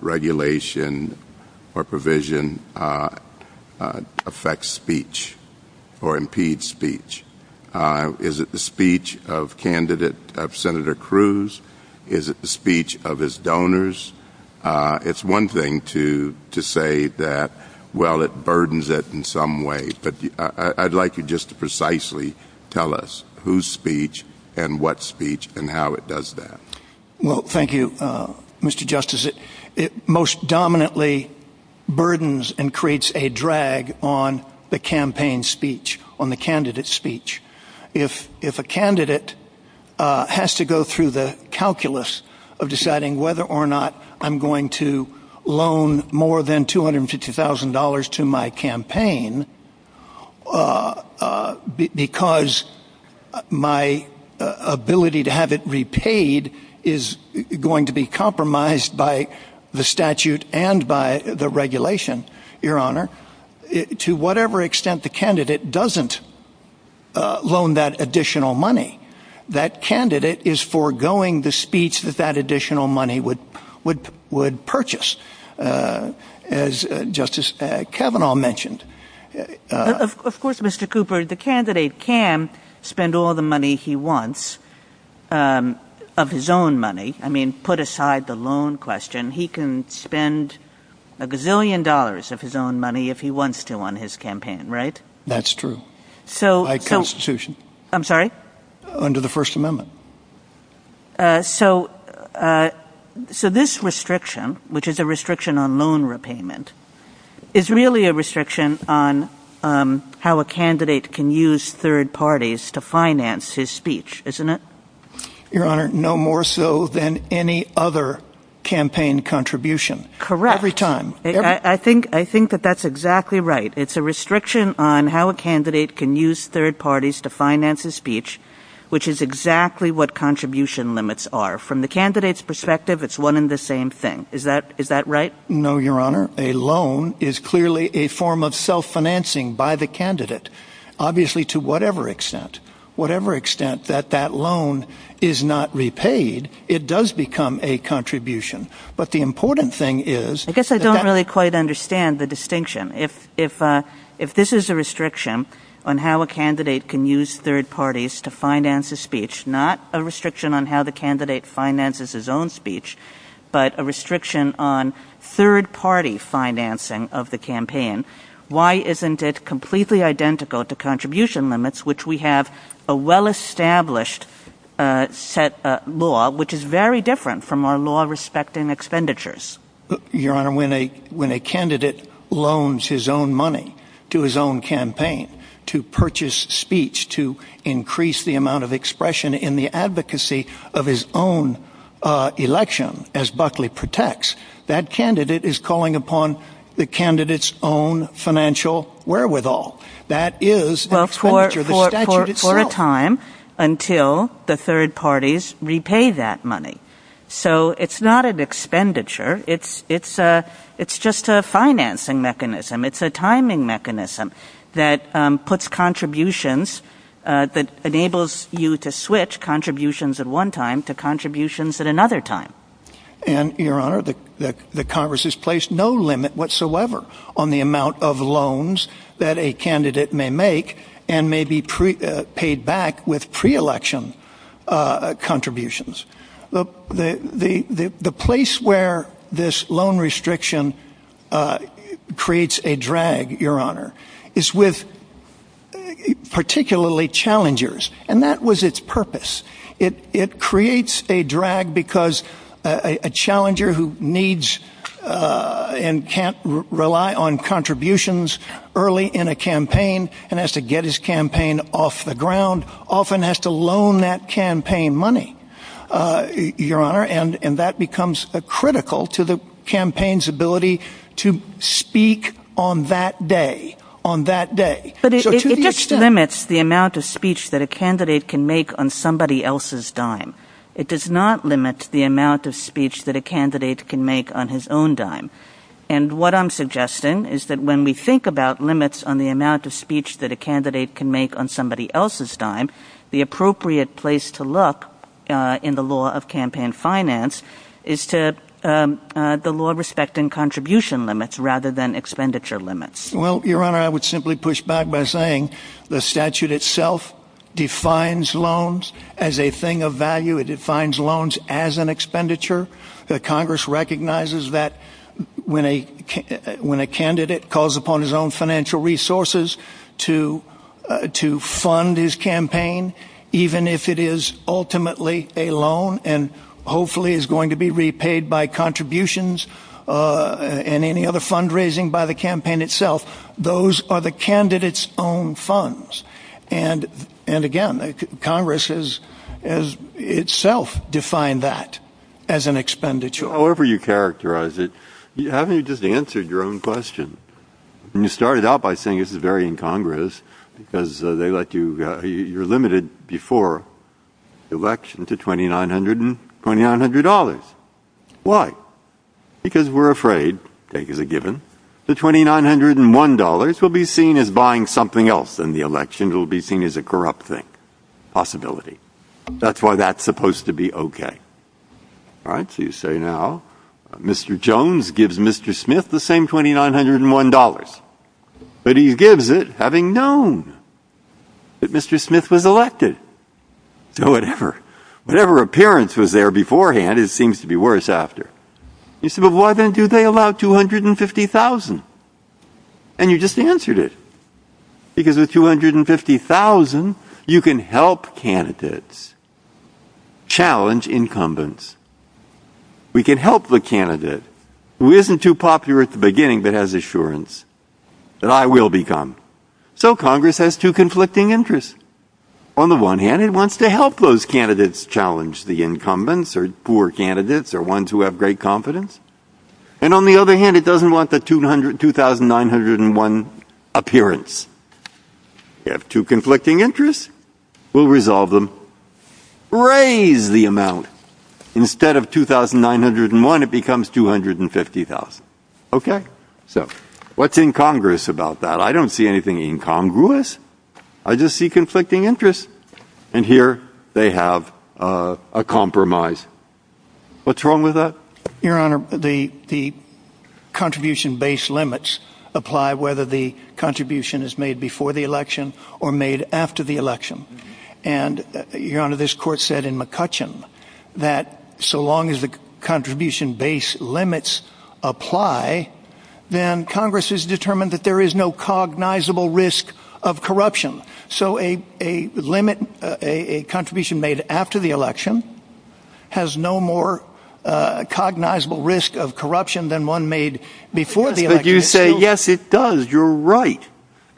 regulation or provision affects speech or impedes speech? Is it the speech of candidate Senator Cruz? Is it the speech of his donors? It's one thing to say that, well, it burdens it in some way. But I'd like you just to precisely tell us whose speech and what speech and how it does that. Well, thank you, Mr. Justice. It most dominantly burdens and creates a drag on the campaign speech, on the candidate speech. If a candidate has to go through the calculus of deciding whether or not I'm going to loan more than $250,000 to my campaign because my ability to have it repaid is going to be compromised by the statute and by the regulation, to whatever extent the candidate doesn't loan that additional money, that candidate is foregoing the speech that that additional money would purchase, as Justice Kavanaugh mentioned. Of course, Mr. Cooper, the candidate can spend all the money he wants of his own money. I mean, put aside the loan question, he can spend a gazillion dollars of his own money if he wants to on his campaign, right? That's true. By Constitution. I'm sorry? Under the First Amendment. So this restriction, which is a restriction on loan repayment, is really a restriction on how a candidate can use third parties to finance his speech, isn't it? Your Honor, no more so than any other campaign contribution. Correct. Every time. I think that that's exactly right. It's a restriction on how a candidate can use third parties to finance his speech, which is exactly what contribution limits are. From the candidate's perspective, it's one and the same thing. Is that right? No, Your Honor. A loan is clearly a form of self-financing by the candidate, obviously to whatever extent. Whatever extent that that loan is not repaid, it does become a contribution. But the important thing is— I guess I don't really quite understand the distinction. If this is a restriction on how a candidate can use third parties to finance his speech, not a restriction on how the candidate finances his own speech, but a restriction on third-party financing of the campaign, why isn't it completely identical to contribution limits, which we have a well-established law, which is very different from our law respecting expenditures? Your Honor, when a candidate loans his own money to his own campaign to purchase speech to increase the amount of expression in the advocacy of his own election, as Buckley protects, that candidate is calling upon the candidate's own financial wherewithal. That is expenditure. The statute is strong. For a time, until the third parties repay that money. It's not an expenditure. It's just a financing mechanism. It's a timing mechanism that puts contributions, that enables you to switch contributions at one time to contributions at another time. And, Your Honor, the Congress has placed no limit whatsoever on the amount of loans that a candidate may make and may be paid back with pre-election contributions. The place where this loan restriction creates a drag, Your Honor, is with particularly challengers. And that was its purpose. It creates a drag because a challenger who needs and can't rely on contributions early in a campaign and has to get his campaign off the ground often has to loan that campaign money, Your Honor, and that becomes critical to the campaign's ability to speak on that day, on that day. It just limits the amount of speech that a candidate can make on somebody else's dime. It does not limit the amount of speech that a candidate can make on his own dime. And what I'm suggesting is that when we think about limits on the amount of speech that a candidate can make on somebody else's dime, the appropriate place to look in the law of campaign finance is to the law respecting contribution limits rather than expenditure limits. Well, Your Honor, I would simply push back by saying the statute itself defines loans as a thing of value. It defines loans as an expenditure. Congress recognizes that when a candidate calls upon his own financial resources to fund his campaign, even if it is ultimately a loan and hopefully is going to be repaid by contributions and any other fundraising by the campaign itself, those are the candidate's own funds. And again, Congress itself defined that as an expenditure. However you characterize it, you haven't just answered your own question. And you started out by saying this is very incongruous because you're limited before the election to $2,900. Why? Because we're afraid, I think as a given, that $2,901 will be seen as buying something else in the election. It will be seen as a corrupt thing. Possibility. That's why that's supposed to be okay. All right, so you say now Mr. Jones gives Mr. Smith the same $2,901. But he gives it having known that Mr. Smith was elected. So whatever appearance was there beforehand, it seems to be worse after. You say, but why then do they allow $250,000? And you just answered it. Because with $250,000, you can help candidates challenge incumbents. We can help the candidate who isn't too popular at the beginning but has assurance that I will become. So Congress has two conflicting interests. On the one hand, it wants to help those candidates challenge the incumbents or poor candidates or ones who have great competence. And on the other hand, it doesn't want the $2,901 appearance. You have two conflicting interests. We'll resolve them. Raise the amount. Instead of $2,901, it becomes $250,000. Okay? So what's incongruous about that? I don't see anything incongruous. I just see conflicting interests. And here they have a compromise. What's wrong with that? Your Honor, the contribution-based limits apply whether the contribution is made before the election or made after the election. And, Your Honor, this court said in McCutcheon that so long as the contribution-based limits apply, then Congress has determined that there is no cognizable risk of corruption. So a limit, a contribution made after the election has no more cognizable risk of corruption than one made before the election. But you say, yes, it does. You're right.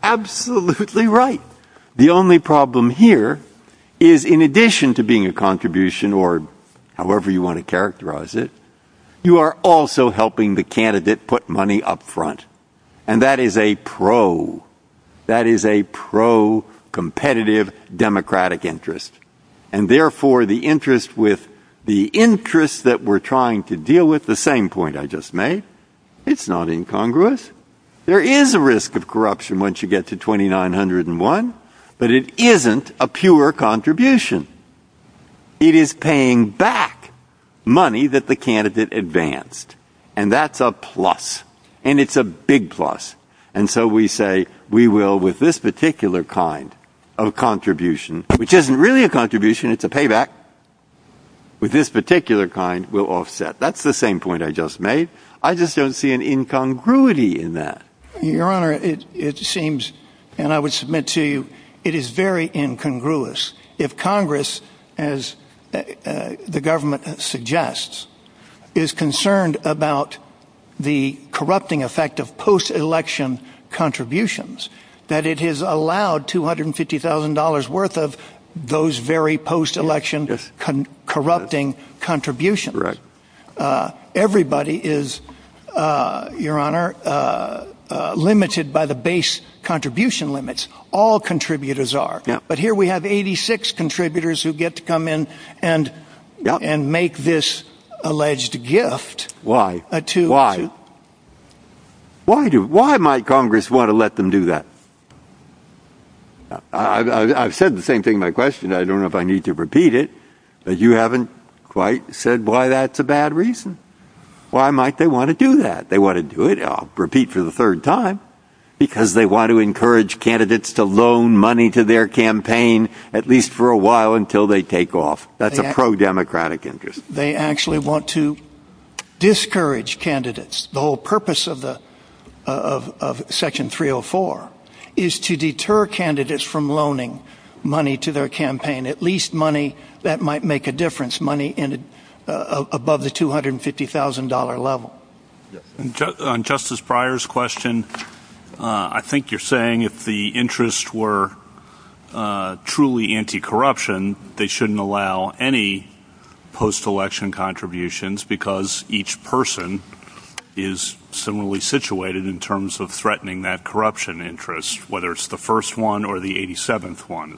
Absolutely right. The only problem here is in addition to being a contribution or however you want to characterize it, you are also helping the candidate put money up front. And that is a pro. That is a pro-competitive democratic interest. And, therefore, the interest with the interest that we're trying to deal with, the same point I just made, it's not incongruous. There is a risk of corruption once you get to $2,901, but it isn't a pure contribution. It is paying back money that the candidate advanced. And that's a plus. And it's a big plus. And so we say we will, with this particular kind of contribution, which isn't really a contribution, it's a payback, with this particular kind, we'll offset. That's the same point I just made. I just don't see an incongruity in that. Your Honor, it seems, and I would submit to you, it is very incongruous. If Congress, as the government suggests, is concerned about the corrupting effect of post-election contributions, that it has allowed $250,000 worth of those very post-election corrupting contributions. Everybody is, Your Honor, limited by the base contribution limits. All contributors are. But here we have 86 contributors who get to come in and make this alleged gift. Why? Why might Congress want to let them do that? I've said the same thing in my question. I don't know if I need to repeat it, but you haven't quite said why that's a bad reason. Why might they want to do that? They want to do it, and I'll repeat for the third time, because they want to encourage candidates to loan money to their campaign at least for a while until they take off. That's a pro-democratic interest. They actually want to discourage candidates. The whole purpose of Section 304 is to deter candidates from loaning money to their campaign, at least money that might make a difference, money above the $250,000 level. On Justice Breyer's question, I think you're saying if the interests were truly anti-corruption, they shouldn't allow any post-election contributions because each person is similarly situated in terms of threatening that corruption interest, whether it's the first one or the 87th one.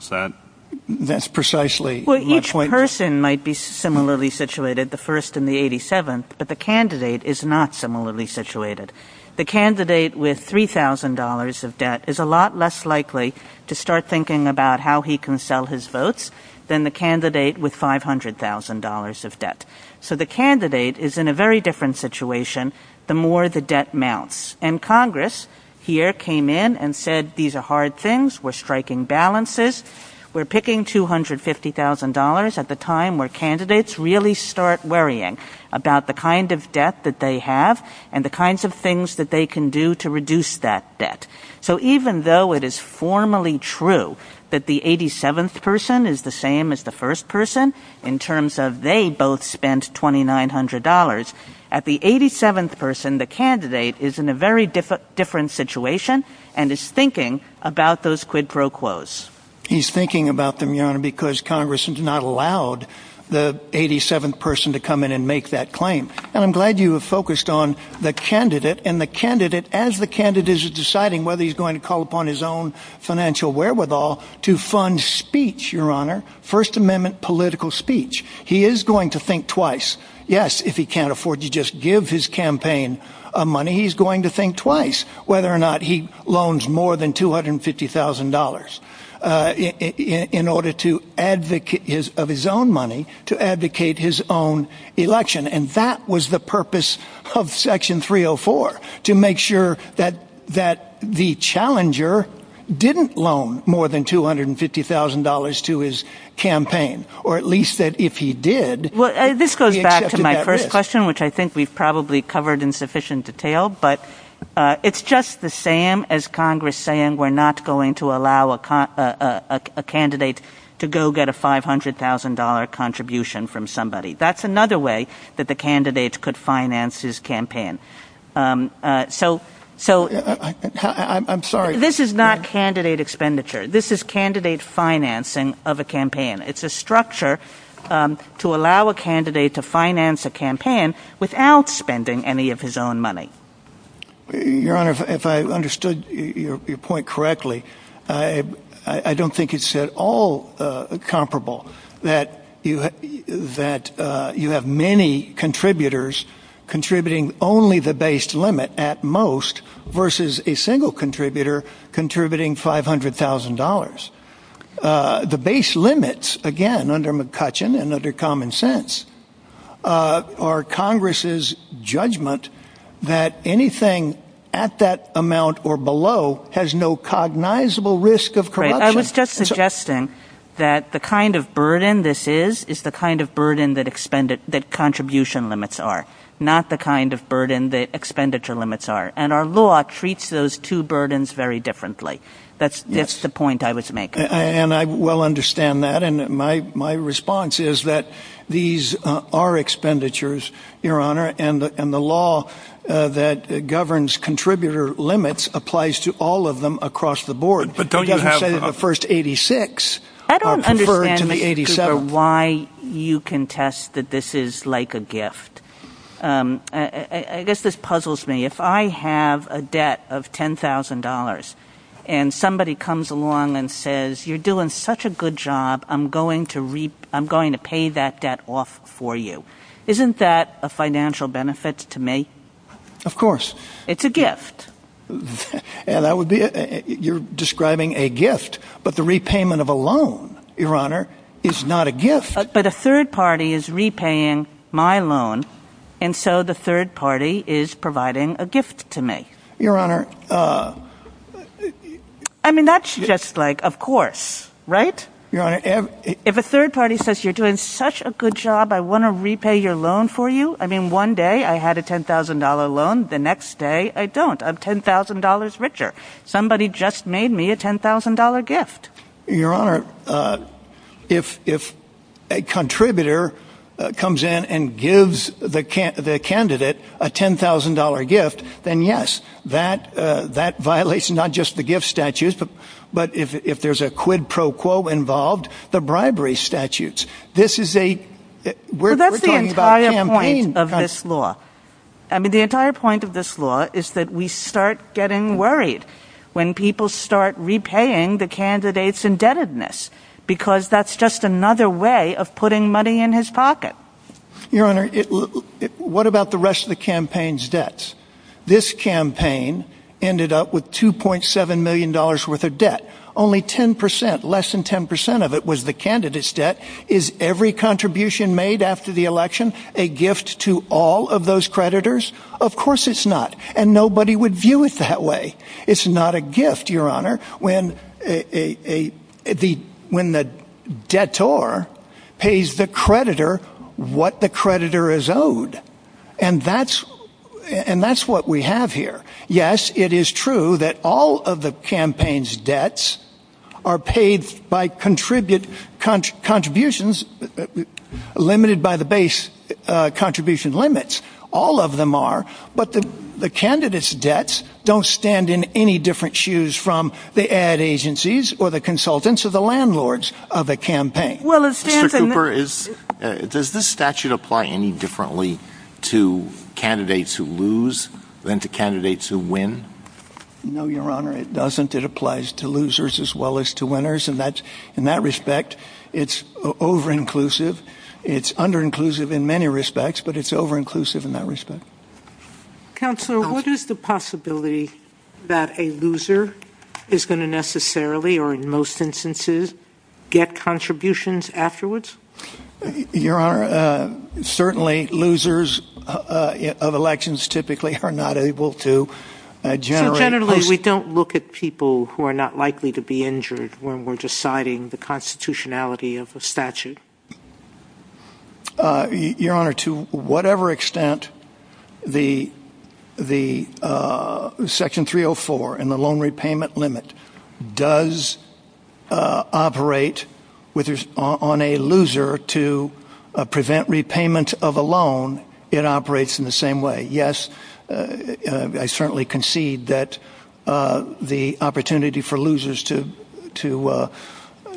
Each person might be similarly situated, the first and the 87th, but the candidate is not similarly situated. The candidate with $3,000 of debt is a lot less likely to start thinking about how he can sell his votes than the candidate with $500,000 of debt. So the candidate is in a very different situation the more the debt mounts. Congress here came in and said these are hard things. We're striking balances. We're picking $250,000 at the time where candidates really start worrying about the kind of debt that they have and the kinds of things that they can do to reduce that debt. So even though it is formally true that the 87th person is the same as the first person in terms of they both spent $2,900, at the 87th person, the candidate is in a very different situation and is thinking about those quid pro quos. He's thinking about them, Your Honor, because Congress has not allowed the 87th person to come in and make that claim. I'm glad you have focused on the candidate and the candidate as the candidate is deciding whether he's going to call upon his own financial wherewithal to fund speech, Your Honor, First Amendment political speech. He is going to think twice. Yes, if he can't afford to just give his campaign money, he's going to think twice whether or not he loans more than $250,000 of his own money to advocate his own election. That was the purpose of Section 304 to make sure that the challenger didn't loan more than $250,000 to his campaign or at least that if he did... This goes back to my first question which I think we've probably covered in sufficient detail but it's just the same as Congress saying we're not going to allow a candidate to go get a $500,000 contribution from somebody. That's another way that the candidate could finance his campaign. I'm sorry. This is not candidate expenditure. This is candidate financing of a campaign. It's a structure to allow a candidate to finance a campaign without spending any of his own money. Your Honor, if I understood your point correctly, I don't think it's at all comparable that you have many contributors contributing only the base limit at most versus a single contributor contributing $500,000. The base limits again under McCutcheon and under common sense are Congress's judgment that anything at that amount or below has no cognizable risk of corruption. I was just suggesting that the kind of burden this is is the kind of burden that contribution limits are, not the kind of burden that expenditure limits are and our law treats those two burdens very differently. That's the point I was making. I well understand that. My response is that these are expenditures, Your Honor, and the law that governs contributor limits applies to all of them across the board. But don't you have to say that the first 86 are preferred to the 87. I don't understand why you contest that this is like a gift. I guess this puzzles me. If I have a debt of $10,000 and somebody comes along and says, you're doing such a good job, I'm going to pay that debt off for you. Isn't that a financial benefit to me? Of course. It's a gift. You're describing a gift, but the repayment of a loan, Your Honor, is not a gift. But a third party is repaying my loan, and so the third party is providing a gift to me. Your Honor. I mean, that's just like, of course, right? If a third party says you're doing such a good job, I want to repay your loan for you. I mean, one day I had a $10,000 loan. The next day I don't. I'm $10,000 richer. Somebody just made me a $10,000 gift. Your Honor, if a contributor comes in and gives the candidate a $10,000 gift, then yes, that violates not just the gift statutes, but if there's a quid pro quo involved, the bribery statutes. This is a... That's the entire point of this law. I mean, the entire point of this law is that we start getting worried. When people start repaying the candidate's indebtedness, because that's just another way of putting money in his pocket. Your Honor, what about the rest of the campaign's debts? This campaign ended up with $2.7 million worth of debt. Only 10%, less than 10% of it was the candidate's debt. Is every contribution made after the election a gift to all of those creditors? Of course it's not, and nobody would view it that way. It's not a gift, Your Honor, when the debtor pays the creditor what the creditor is owed. And that's what we have here. Yes, it is true that all of the campaign's debts are paid by contributions limited by the base contribution limits. All of them are, but the candidate's debts don't stand in any different shoes from the ad agencies or the consultants or the landlords of the campaign. Mr. Cooper, does this statute apply any differently to candidates who lose than to candidates who win? No, Your Honor, it doesn't. It applies to losers as well as to winners, and in that respect, it's over-inclusive. It's under-inclusive in many respects, but it's over-inclusive in that respect. Counselor, what is the possibility that a loser is going to necessarily, or in most instances, get contributions afterwards? Your Honor, certainly losers of elections typically are not able to generate... Generally, we don't look at people who are not likely to be injured when we're deciding the constitutionality of the statute. Your Honor, to whatever extent the Section 304 and the loan repayment limit does operate on a loser to prevent repayment of a loan, it operates in the same way. Yes, I certainly concede that the opportunity for losers to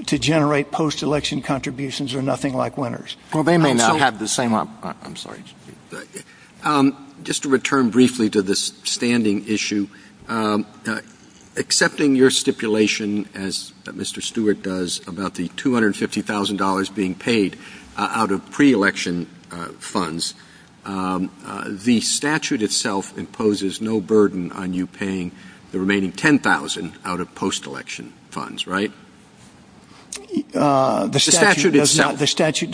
generate post-election contributions are nothing like winners. Just to return briefly to this standing issue, accepting your stipulation, as Mr. Stewart does, about the $250,000 being paid out of pre-election funds, the statute itself imposes no burden on you paying the remaining $10,000 out of post-election funds, right? The statute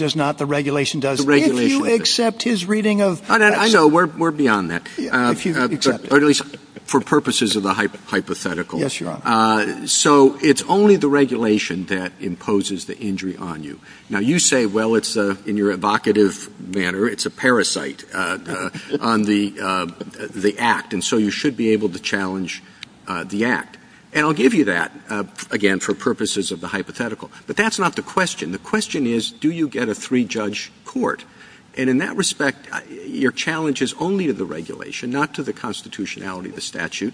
does not. The regulation does not. If you accept his reading of... I know. We're beyond that. At least for purposes of the hypothetical. Yes, Your Honor. So it's only the regulation that imposes the injury on you. Now, you say, well, in your evocative manner, it's a parasite on the act, and so you should be able to challenge the act. And I'll give you that, again, for purposes of the hypothetical. But that's not the question. The question is, do you get a three-judge court? And in that respect, your challenge is only to the regulation, not to the constitutionality of the statute.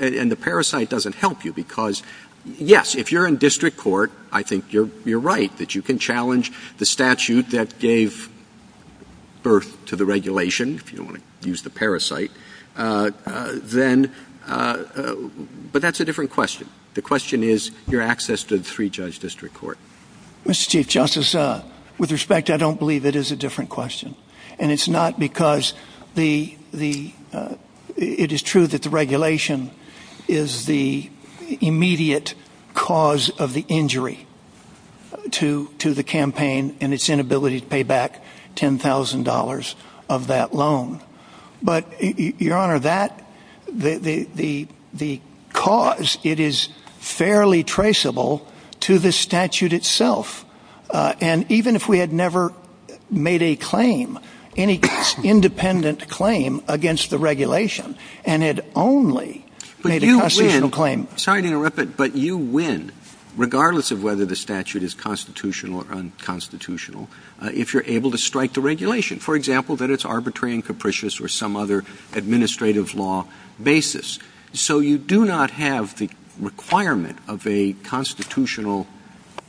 And the parasite doesn't help you because, yes, if you're in district court, I think you're right, that you can challenge the statute that gave birth to the regulation, if you don't want to use the parasite. But that's a different question. The question is, your access to the three-judge district court. Mr. Chief Justice, with respect, I don't believe it is a different question. And it's not because the – it is true that the regulation is the immediate cause of the injury to the campaign and its inability to pay back $10,000 of that loan. But, Your Honor, that – the cause, it is fairly traceable to the statute itself. And even if we had never made a claim, any independent claim against the regulation, and had only made a constitutional claim – But you win – sorry to interrupt, but you win, regardless of whether the statute is constitutional or unconstitutional, if you're able to strike the regulation. For example, that it's arbitrary and capricious or some other administrative law basis. So you do not have the requirement of a constitutional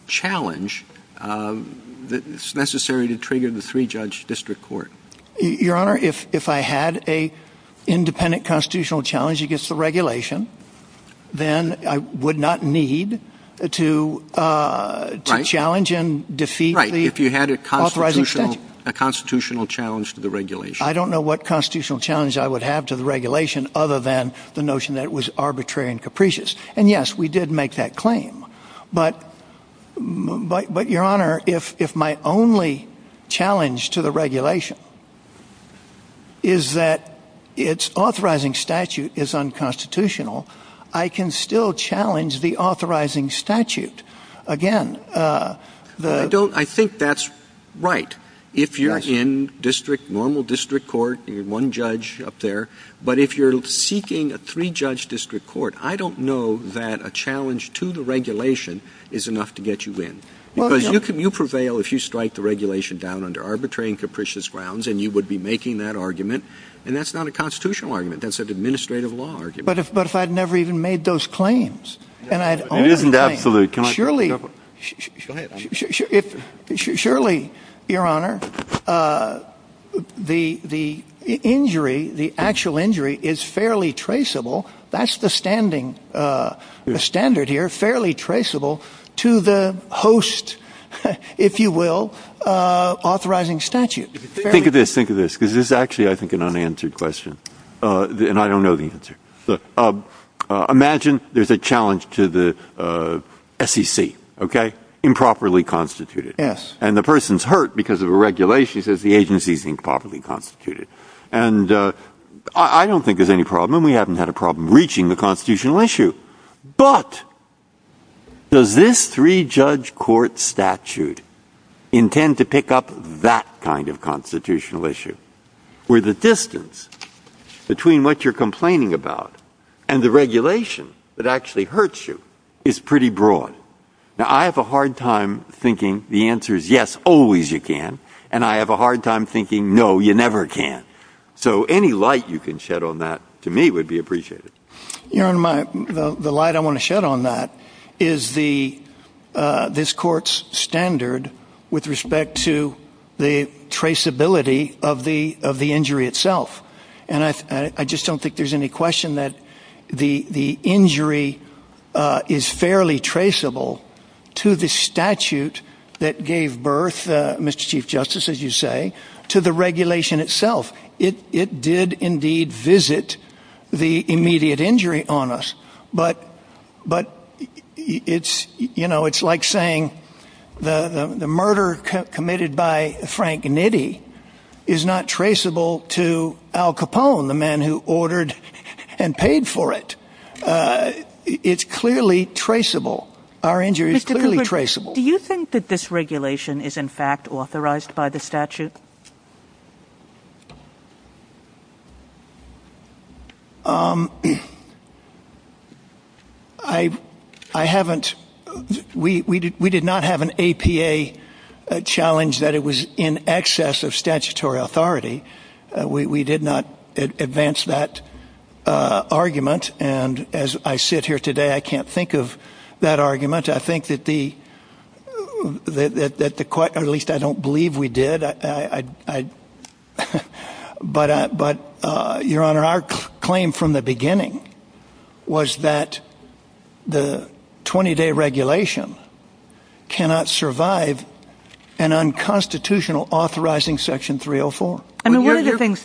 challenge that's necessary to trigger the three-judge district court. Your Honor, if I had an independent constitutional challenge against the regulation, then I would not need to challenge and defeat the authorizing statute. Right, if you had a constitutional challenge to the regulation. Other than the notion that it was arbitrary and capricious. And yes, we did make that claim. But, Your Honor, if my only challenge to the regulation is that its authorizing statute is unconstitutional, I can still challenge the authorizing statute. I think that's right. If you're in district, normal district court, one judge up there, but if you're seeking a three-judge district court, I don't know that a challenge to the regulation is enough to get you in. Because you prevail if you strike the regulation down under arbitrary and capricious grounds, and you would be making that argument. And that's not a constitutional argument, that's an administrative law argument. But if I'd never even made those claims, and I'd only – Surely, Your Honor, the injury, the actual injury is fairly traceable. That's the standard here, fairly traceable to the host, if you will, authorizing statute. Think of this, because this is actually, I think, an unanswered question. And I don't know the answer. Imagine there's a challenge to the SEC, improperly constituted. And the person's hurt because of a regulation that says the agency is improperly constituted. And I don't think there's any problem, and we haven't had a problem reaching the constitutional issue. But does this three-judge court statute intend to pick up that kind of constitutional issue? Where the distance between what you're complaining about and the regulation that actually hurts you is pretty broad. Now, I have a hard time thinking the answer is yes, always you can. And I have a hard time thinking no, you never can. So any light you can shed on that, to me, would be appreciated. The light I want to shed on that is this court's standard with respect to the traceability of the injury itself. And I just don't think there's any question that the injury is fairly traceable to the statute that gave birth, Mr. Chief Justice, as you say, to the regulation itself. It did indeed visit the immediate injury on us. But it's like saying the murder committed by Frank Nitti is not traceable to Al Capone, the man who ordered and paid for it. It's clearly traceable. Our injury is clearly traceable. Do you think that this regulation is in fact authorized by the statute? We did not have an APA challenge that it was in excess of statutory authority. We did not advance that argument. And as I sit here today, I can't think of that argument. I think that the court, at least I don't believe we did. But, Your Honor, our claim from the beginning was that the 20-day regulation cannot survive an unconstitutional authorizing section 304. I mean, one of the things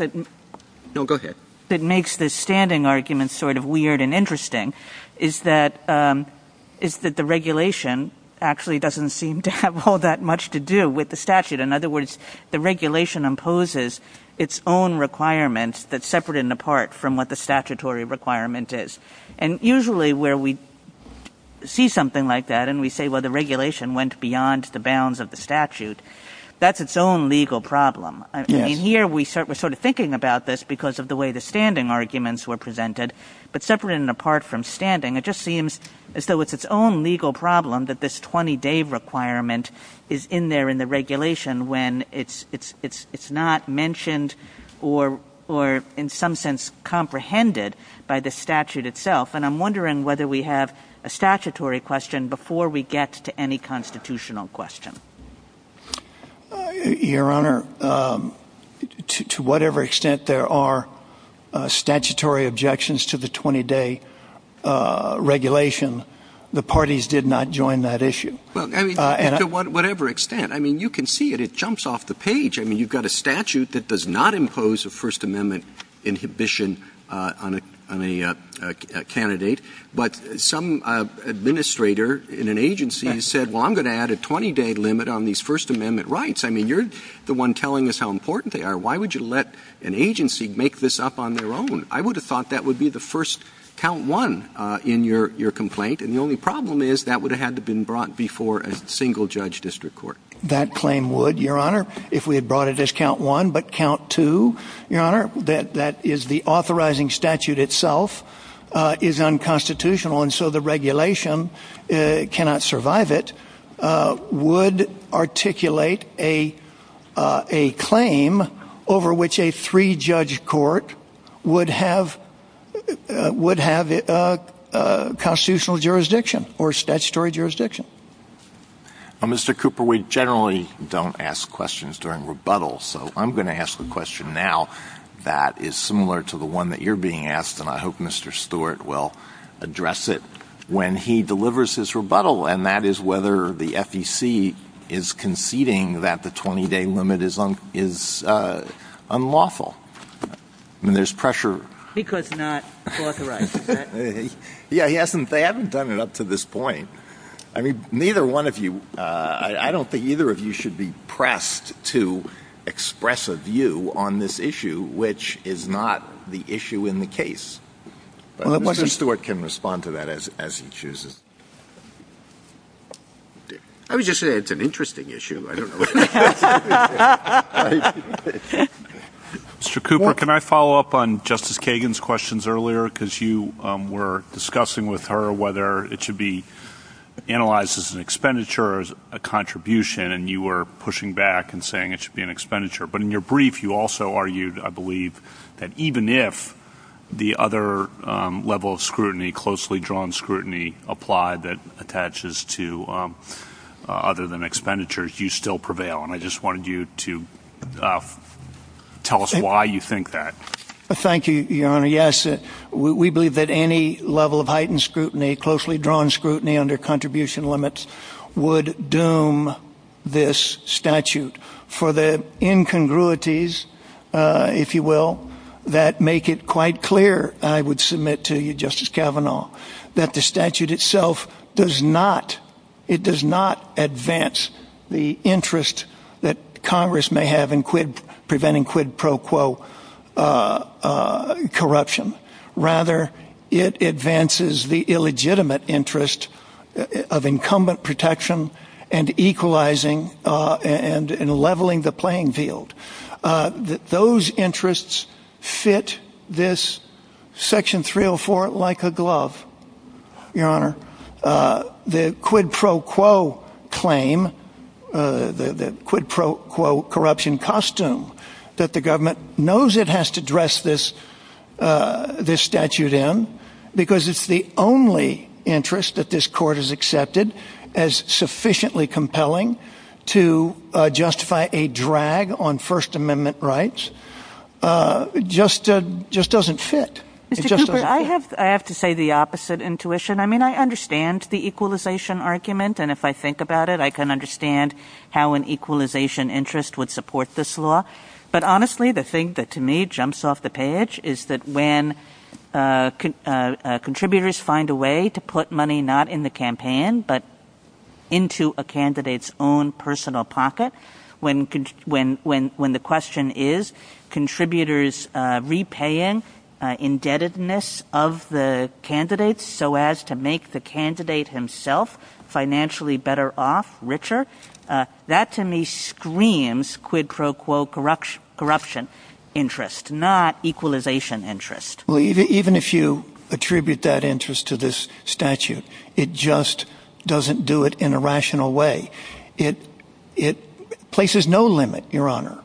that makes this standing argument sort of weird and interesting is that the regulation actually doesn't seem to have all that much to do with the statute. In other words, the regulation imposes its own requirements that separate it apart from what the statutory requirement is. And usually where we see something like that and we say, well, the regulation went beyond the bounds of the statute, that's its own legal problem. I mean, here we're sort of thinking about this because of the way the standing arguments were presented. But separate and apart from standing, it just seems as though it's its own legal problem that this 20-day requirement is in there in the regulation when it's not mentioned or in some sense comprehended by the statute itself. And I'm wondering whether we have a statutory question before we get to any constitutional question. Your Honor, to whatever extent there are statutory objections to the 20-day regulation, the parties did not join that issue. To whatever extent. I mean, you can see it. It jumps off the page. I mean, you've got a statute that does not impose a First Amendment inhibition on a candidate. But some administrator in an agency said, well, I'm going to add a 20-day limit on these First Amendment rights. I mean, you're the one telling us how important they are. Why would you let an agency make this up on their own? I would have thought that would be the first count one in your complaint. And the only problem is that would have had to been brought before a single judge district court. That claim would, Your Honor, if we had brought it as count one. But count two, Your Honor, that that is the authorizing statute itself is unconstitutional. And so the regulation cannot survive it would articulate a a claim over which a three judge court would have would have a constitutional jurisdiction or statutory jurisdiction. Mr. Cooper, we generally don't ask questions during rebuttals. So I'm going to ask the question now that is similar to the one that you're being asked. And I hope Mr. Stewart will address it when he delivers his rebuttal. And that is whether the FEC is conceding that the 20-day limit is unlawful. There's pressure. He could not authorize it. Yeah, he hasn't. They haven't done it up to this point. I mean, neither one of you. I don't think either of you should be pressed to express a view on this issue, which is not the issue in the case. Mr. Stewart can respond to that as he chooses. I was just saying it's an interesting issue. Mr. Cooper, can I follow up on Justice Kagan's questions earlier? Because you were discussing with her whether it should be analyzed as an expenditure as a contribution. And you were pushing back and saying it should be an expenditure. But in your brief, you also argued, I believe, that even if the other level of scrutiny, closely drawn scrutiny, applied that attaches to other than expenditures, you still prevail. And I just wanted you to tell us why you think that. Thank you, Your Honor. Yes, we believe that any level of heightened scrutiny, closely drawn scrutiny under contribution limits, would doom this statute for the incongruities, if you will, that make it quite clear, and I would submit to you, Justice Kavanaugh, that the statute itself does not advance the interest that Congress may have in preventing quid pro quo corruption. Rather, it advances the illegitimate interest of incumbent protection and equalizing and leveling the playing field. Those interests fit this Section 304 like a glove, Your Honor. The quid pro quo claim, the quid pro quo corruption costume that the government knows it has to dress this statute in, because it's the only interest that this Court has accepted as sufficiently compelling to justify a drag on First Amendment rights, just doesn't fit. I have to say the opposite intuition. I mean, I understand the equalization argument, and if I think about it, I can understand how an equalization interest would support this law. But honestly, the thing that to me jumps off the page is that when contributors find a way to put money not in the campaign, but into a candidate's own personal pocket, when the question is contributors repaying indebtedness of the candidate so as to make the candidate himself financially better off, richer, that to me screams quid pro quo corruption interest, not equalization interest. Even if you attribute that interest to this statute, it just doesn't do it in a rational way. It places no limit, Your Honor,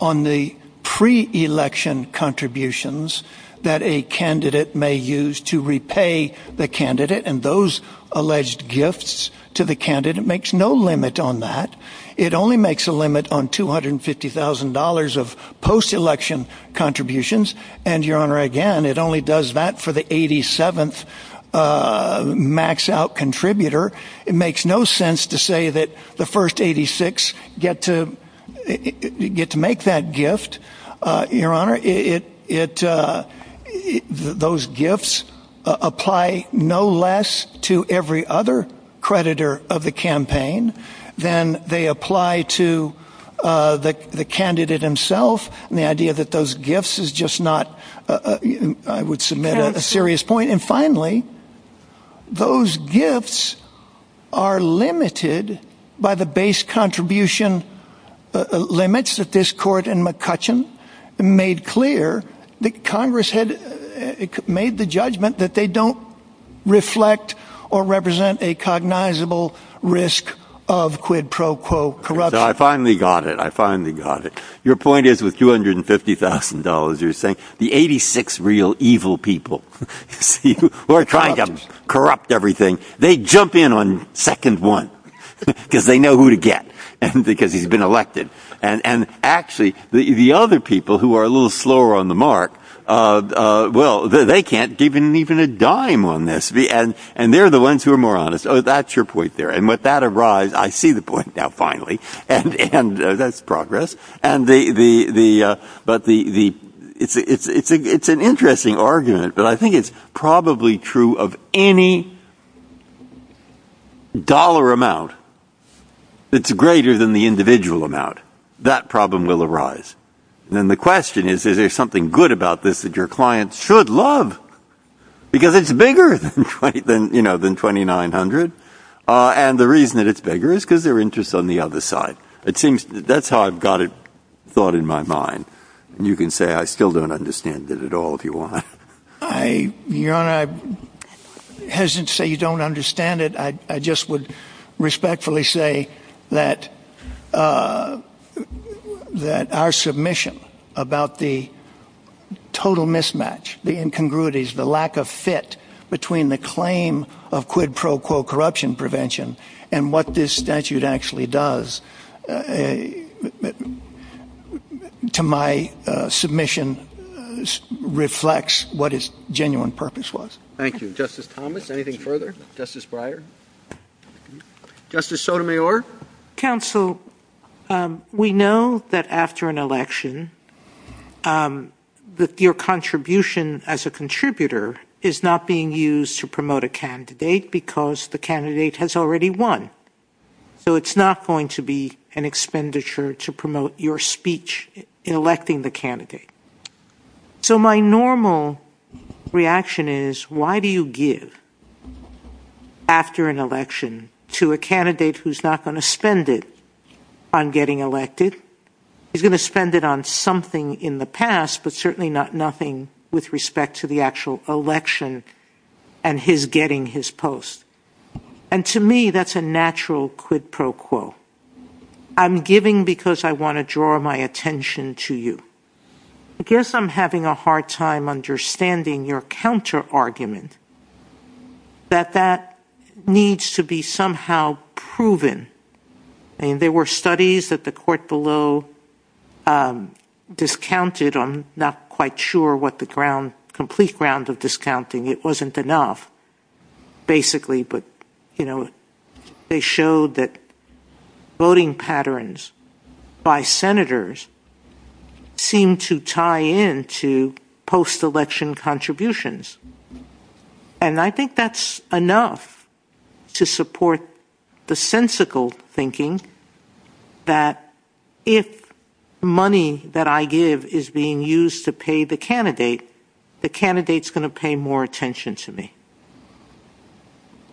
on the pre-election contributions that a candidate may use to repay the candidate and those alleged gifts to the candidate. It makes no limit on that. It only makes a limit on $250,000 of post-election contributions, and Your Honor, again, it only does that for the 87th maxed out contributor. It makes no sense to say that the first 86 get to make that gift, Your Honor. Those gifts apply no less to every other creditor of the campaign than they apply to the candidate himself, and the idea that those gifts is just not, I would submit, a serious point. And finally, those gifts are limited by the base contribution limits that this Court in McCutcheon made clear that Congress had made the judgment that they don't reflect or represent a cognizable risk of quid pro quo corruption. I finally got it. I finally got it. Your point is with $250,000, you're saying the 86 real evil people who are trying to corrupt everything, they jump in on second one because they know who to get because he's been elected. And actually, the other people who are a little slower on the mark, well, they can't get even a dime on this, and they're the ones who are more honest. So that's your point there, and with that arise, I see the point now, finally, and that's progress. And it's an interesting argument, but I think it's probably true of any dollar amount that's greater than the individual amount. That problem will arise. And the question is, is there something good about this that your clients should love? Because it's bigger than $2,900, and the reason that it's bigger is because their interest is on the other side. It seems that's how I've got it thought in my mind, and you can say I still don't understand it at all if you want. Your Honor, I'm hesitant to say you don't understand it. Thank you. Justice Thomas, anything further? Justice Breyer? Justice Sotomayor? Counsel, we know that after an election, your contribution as a contributor is not being used to promote a candidate because the candidate has already won. So it's not going to be an expenditure to promote your speech in electing the candidate. So my normal reaction is, why do you give after an election to a candidate who's not going to spend it on getting elected? He's going to spend it on something in the past, but certainly not nothing with respect to the actual election and his getting his post. And to me, that's a natural quid pro quo. I'm giving because I want to draw my attention to you. I guess I'm having a hard time understanding your counter-argument that that needs to be somehow proven. I mean, there were studies that the court below discounted. I'm not quite sure what the complete ground of discounting. Basically, but, you know, they showed that voting patterns by senators seem to tie into post-election contributions. And I think that's enough to support the sensical thinking that if money that I give is being used to pay the candidate, the candidate's going to pay more attention to me.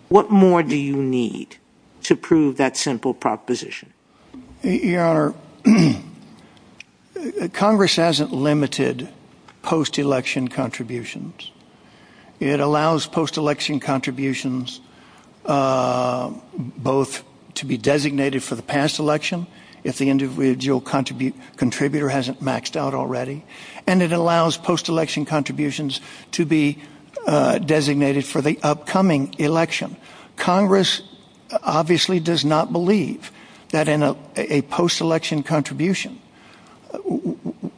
What more do you need to prove that simple proposition? Congress hasn't limited post-election contributions. It allows post-election contributions both to be designated for the past election, if the individual contributor hasn't maxed out already, and it allows post-election contributions to be designated for the upcoming election. Congress obviously does not believe that in a post-election contribution,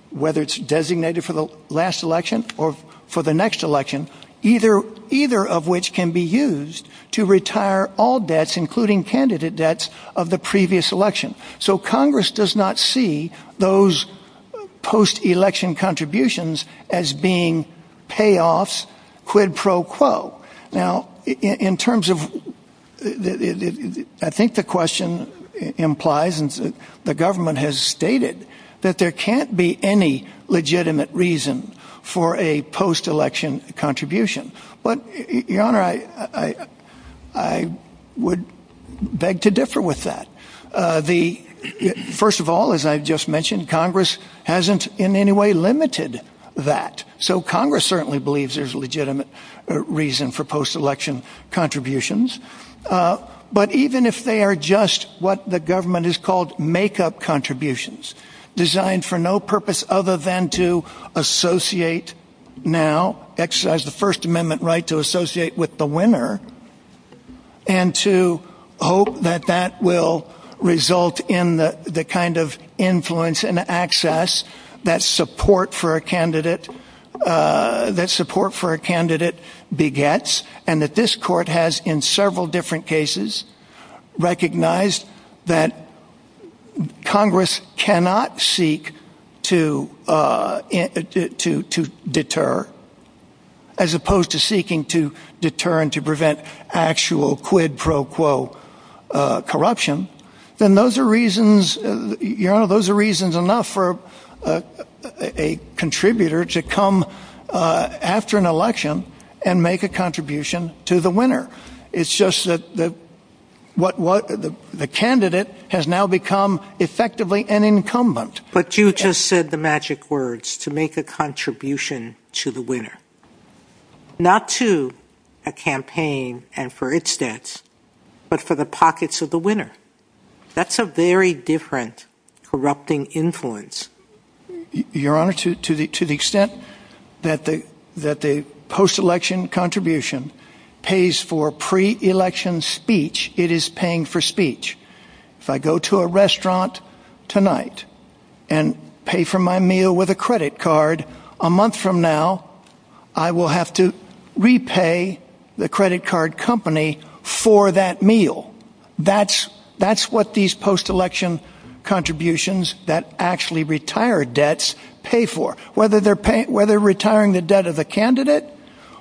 whether it's designated for the last election or for the next election, either of which can be used to retire all debts, including candidate debts of the previous election. So Congress does not see those post-election contributions as being payoffs quid pro quo. Now, in terms of I think the question implies and the government has stated that there can't be any legitimate reason for a post-election contribution. But, Your Honor, I would beg to differ with that. The first of all, as I've just mentioned, Congress hasn't in any way limited that. So Congress certainly believes there's a legitimate reason for post-election contributions. But even if they are just what the government has called make-up contributions designed for no purpose other than to associate now, exercise the First Amendment right to associate with the winner, and to hope that that will result in the kind of influence and access that support for a candidate begets, and that this court has in several different cases recognized that Congress cannot seek to deter, as opposed to seeking to deter and to prevent actual quid pro quo corruption, then those are reasons, Your Honor, those are reasons enough for a contributor to come after an election and make a contribution to the winner. It's just that the candidate has now become effectively an incumbent. But you just said the magic words, to make a contribution to the winner. Not to a campaign and for its debts, but for the pockets of the winner. That's a very different corrupting influence. Your Honor, to the extent that the post-election contribution pays for pre-election speech, it is paying for speech. If I go to a restaurant tonight and pay for my meal with a credit card, a month from now I will have to repay the credit card company for that meal. That's what these post-election contributions that actually retire debts pay for. Whether retiring the debt of a candidate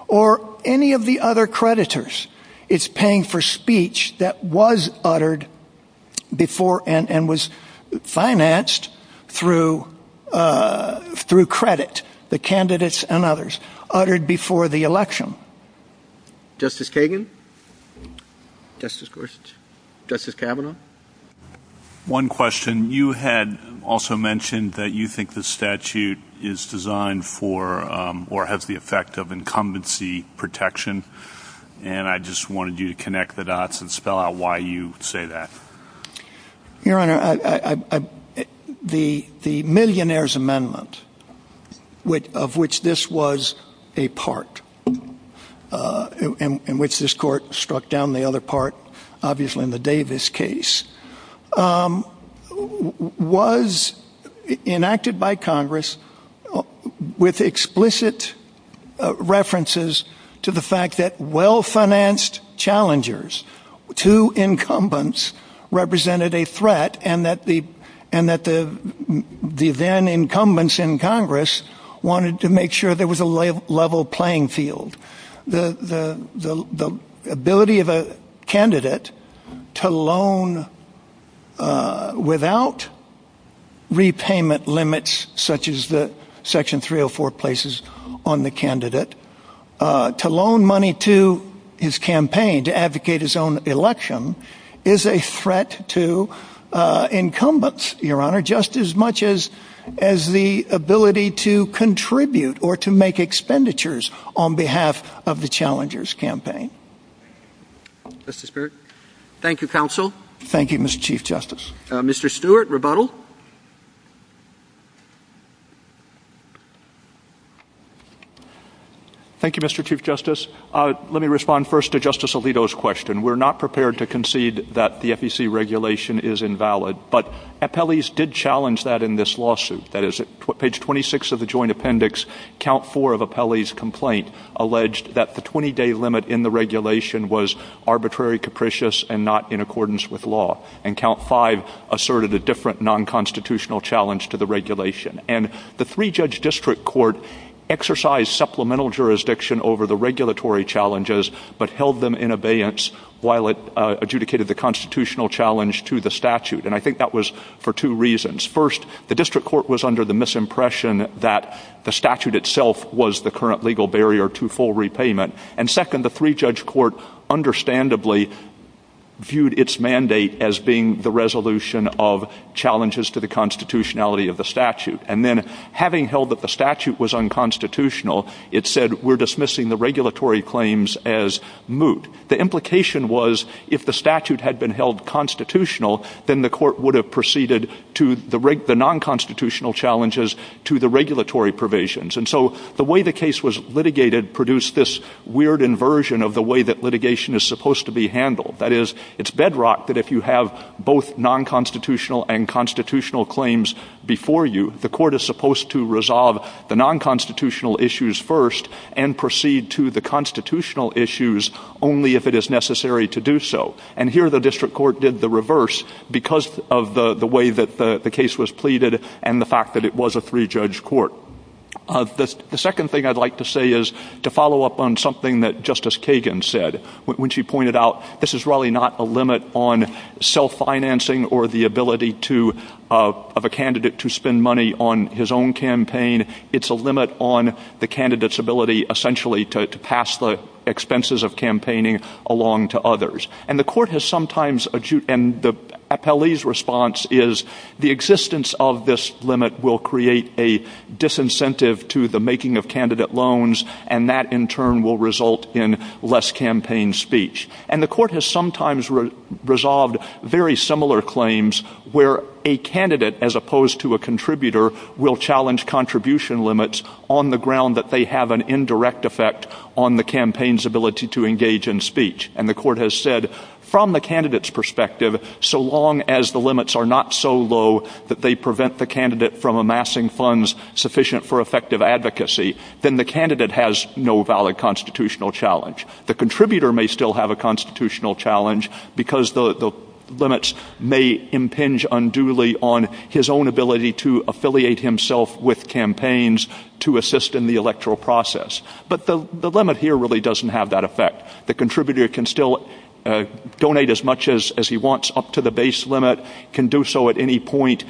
or any of the other creditors, it's paying for speech that was uttered before and was financed through credit. The candidates and others uttered before the election. Justice Kagan? Justice Gorsuch? Justice Kavanaugh? One question. You had also mentioned that you think the statute is designed for or has the effect of incumbency protection. And I just wanted you to connect the dots and spell out why you say that. Your Honor, the Millionaire's Amendment, of which this was a part, in which this court struck down the other part, obviously in the Davis case, was enacted by Congress with explicit references to the fact that well-financed challengers to incumbents represented a threat, and that the then incumbents in Congress wanted to make sure there was a level playing field. The ability of a candidate to loan without repayment limits, such as the Section 304 places on the candidate, to loan money to his campaign, to advocate his own election, is a threat to incumbents, Your Honor, just as much as the ability to contribute or to make expenditures on behalf of the challengers' campaign. Justice Stewart? Thank you, Counsel. Thank you, Mr. Chief Justice. Mr. Stewart, rebuttal. Thank you, Mr. Chief Justice. Let me respond first to Justice Alito's question. We're not prepared to concede that the FEC regulation is invalid, but Apelles did challenge that in this lawsuit. That is, at page 26 of the Joint Appendix, Count 4 of Apelles' complaint alleged that the 20-day limit in the regulation was arbitrary, capricious, and not in accordance with law. And Count 5 asserted a different nonconstitutional challenge to the regulation. And the three-judge district court exercised supplemental jurisdiction over the regulatory challenges but held them in abeyance while it adjudicated the constitutional challenge to the statute. And I think that was for two reasons. First, the district court was under the misimpression that the statute itself was the current legal barrier to full repayment. And second, the three-judge court understandably viewed its mandate as being the resolution of challenges to the constitutionality of the statute. And then, having held that the statute was unconstitutional, it said, we're dismissing the regulatory claims as moot. The implication was, if the statute had been held constitutional, then the court would have proceeded to the nonconstitutional challenges to the regulatory provisions. And so the way the case was litigated produced this weird inversion of the way that litigation is supposed to be handled. That is, it's bedrocked that if you have both nonconstitutional and constitutional claims before you, the court is supposed to resolve the nonconstitutional issues first and proceed to the constitutional issues only if it is necessary to do so. And here the district court did the reverse because of the way that the case was pleaded and the fact that it was a three-judge court. The second thing I'd like to say is to follow up on something that Justice Kagan said when she pointed out this is really not a limit on self-financing or the ability of a candidate to spend money on his own campaign. It's a limit on the candidate's ability essentially to pass the expenses of campaigning along to others. And the appellee's response is the existence of this limit will create a disincentive to the making of candidate loans and that in turn will result in less campaign speech. And the court has sometimes resolved very similar claims where a candidate, as opposed to a contributor, will challenge contribution limits on the ground that they have an indirect effect on the campaign's ability to engage in speech. And the court has said from the candidate's perspective, so long as the limits are not so low that they prevent the candidate from amassing funds sufficient for effective advocacy, then the candidate has no valid constitutional challenge. The contributor may still have a constitutional challenge because the limits may impinge unduly on his own ability to affiliate himself with campaigns to assist in the electoral process. But the limit here really doesn't have that effect. The contributor can still donate as much as he wants up to the base limit, can do so at any point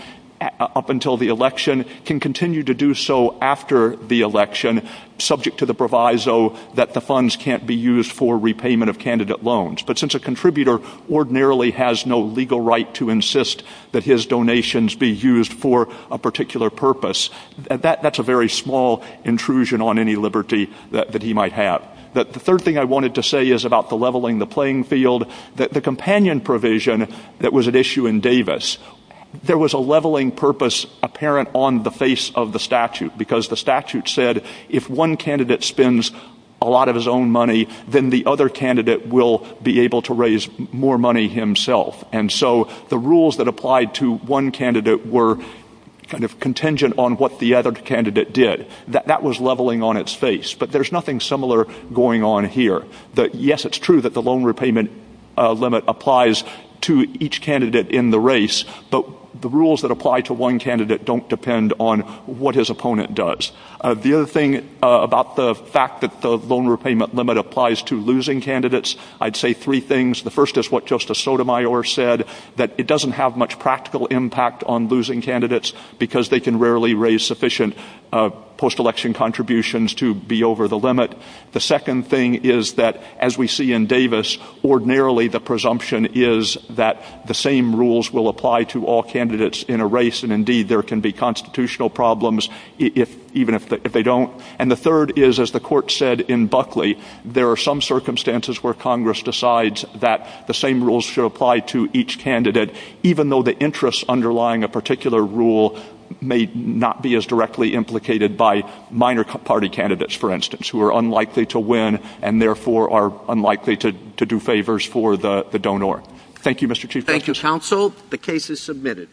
up until the election, can continue to do so after the election subject to the proviso that the funds can't be used for repayment of candidate loans. But since a contributor ordinarily has no legal right to insist that his donations be used for a particular purpose, that's a very small intrusion on any liberty that he might have. The third thing I wanted to say is about the leveling the playing field. The companion provision that was at issue in Davis, there was a leveling purpose apparent on the face of the statute because the statute said if one candidate spends a lot of his own money, then the other candidate will be able to raise more money himself. And so the rules that applied to one candidate were kind of contingent on what the other candidate did. That was leveling on its face. But there's nothing similar going on here. Yes, it's true that the loan repayment limit applies to each candidate in the race, but the rules that apply to one candidate don't depend on what his opponent does. The other thing about the fact that the loan repayment limit applies to losing candidates, I'd say three things. The first is what Justice Sotomayor said, that it doesn't have much practical impact on losing candidates because they can rarely raise sufficient post-election contributions to be over the limit. The second thing is that, as we see in Davis, ordinarily the presumption is that the same rules will apply to all candidates in a race, and indeed there can be constitutional problems even if they don't. And the third is, as the court said in Buckley, there are some circumstances where Congress decides that the same rules should apply to each candidate, even though the interests underlying a particular rule may not be as directly implicated by minor party candidates, for instance, who are unlikely to win and therefore are unlikely to do favors for the donor. Thank you, Mr. Chief Justice. Thank you, counsel. The case is submitted.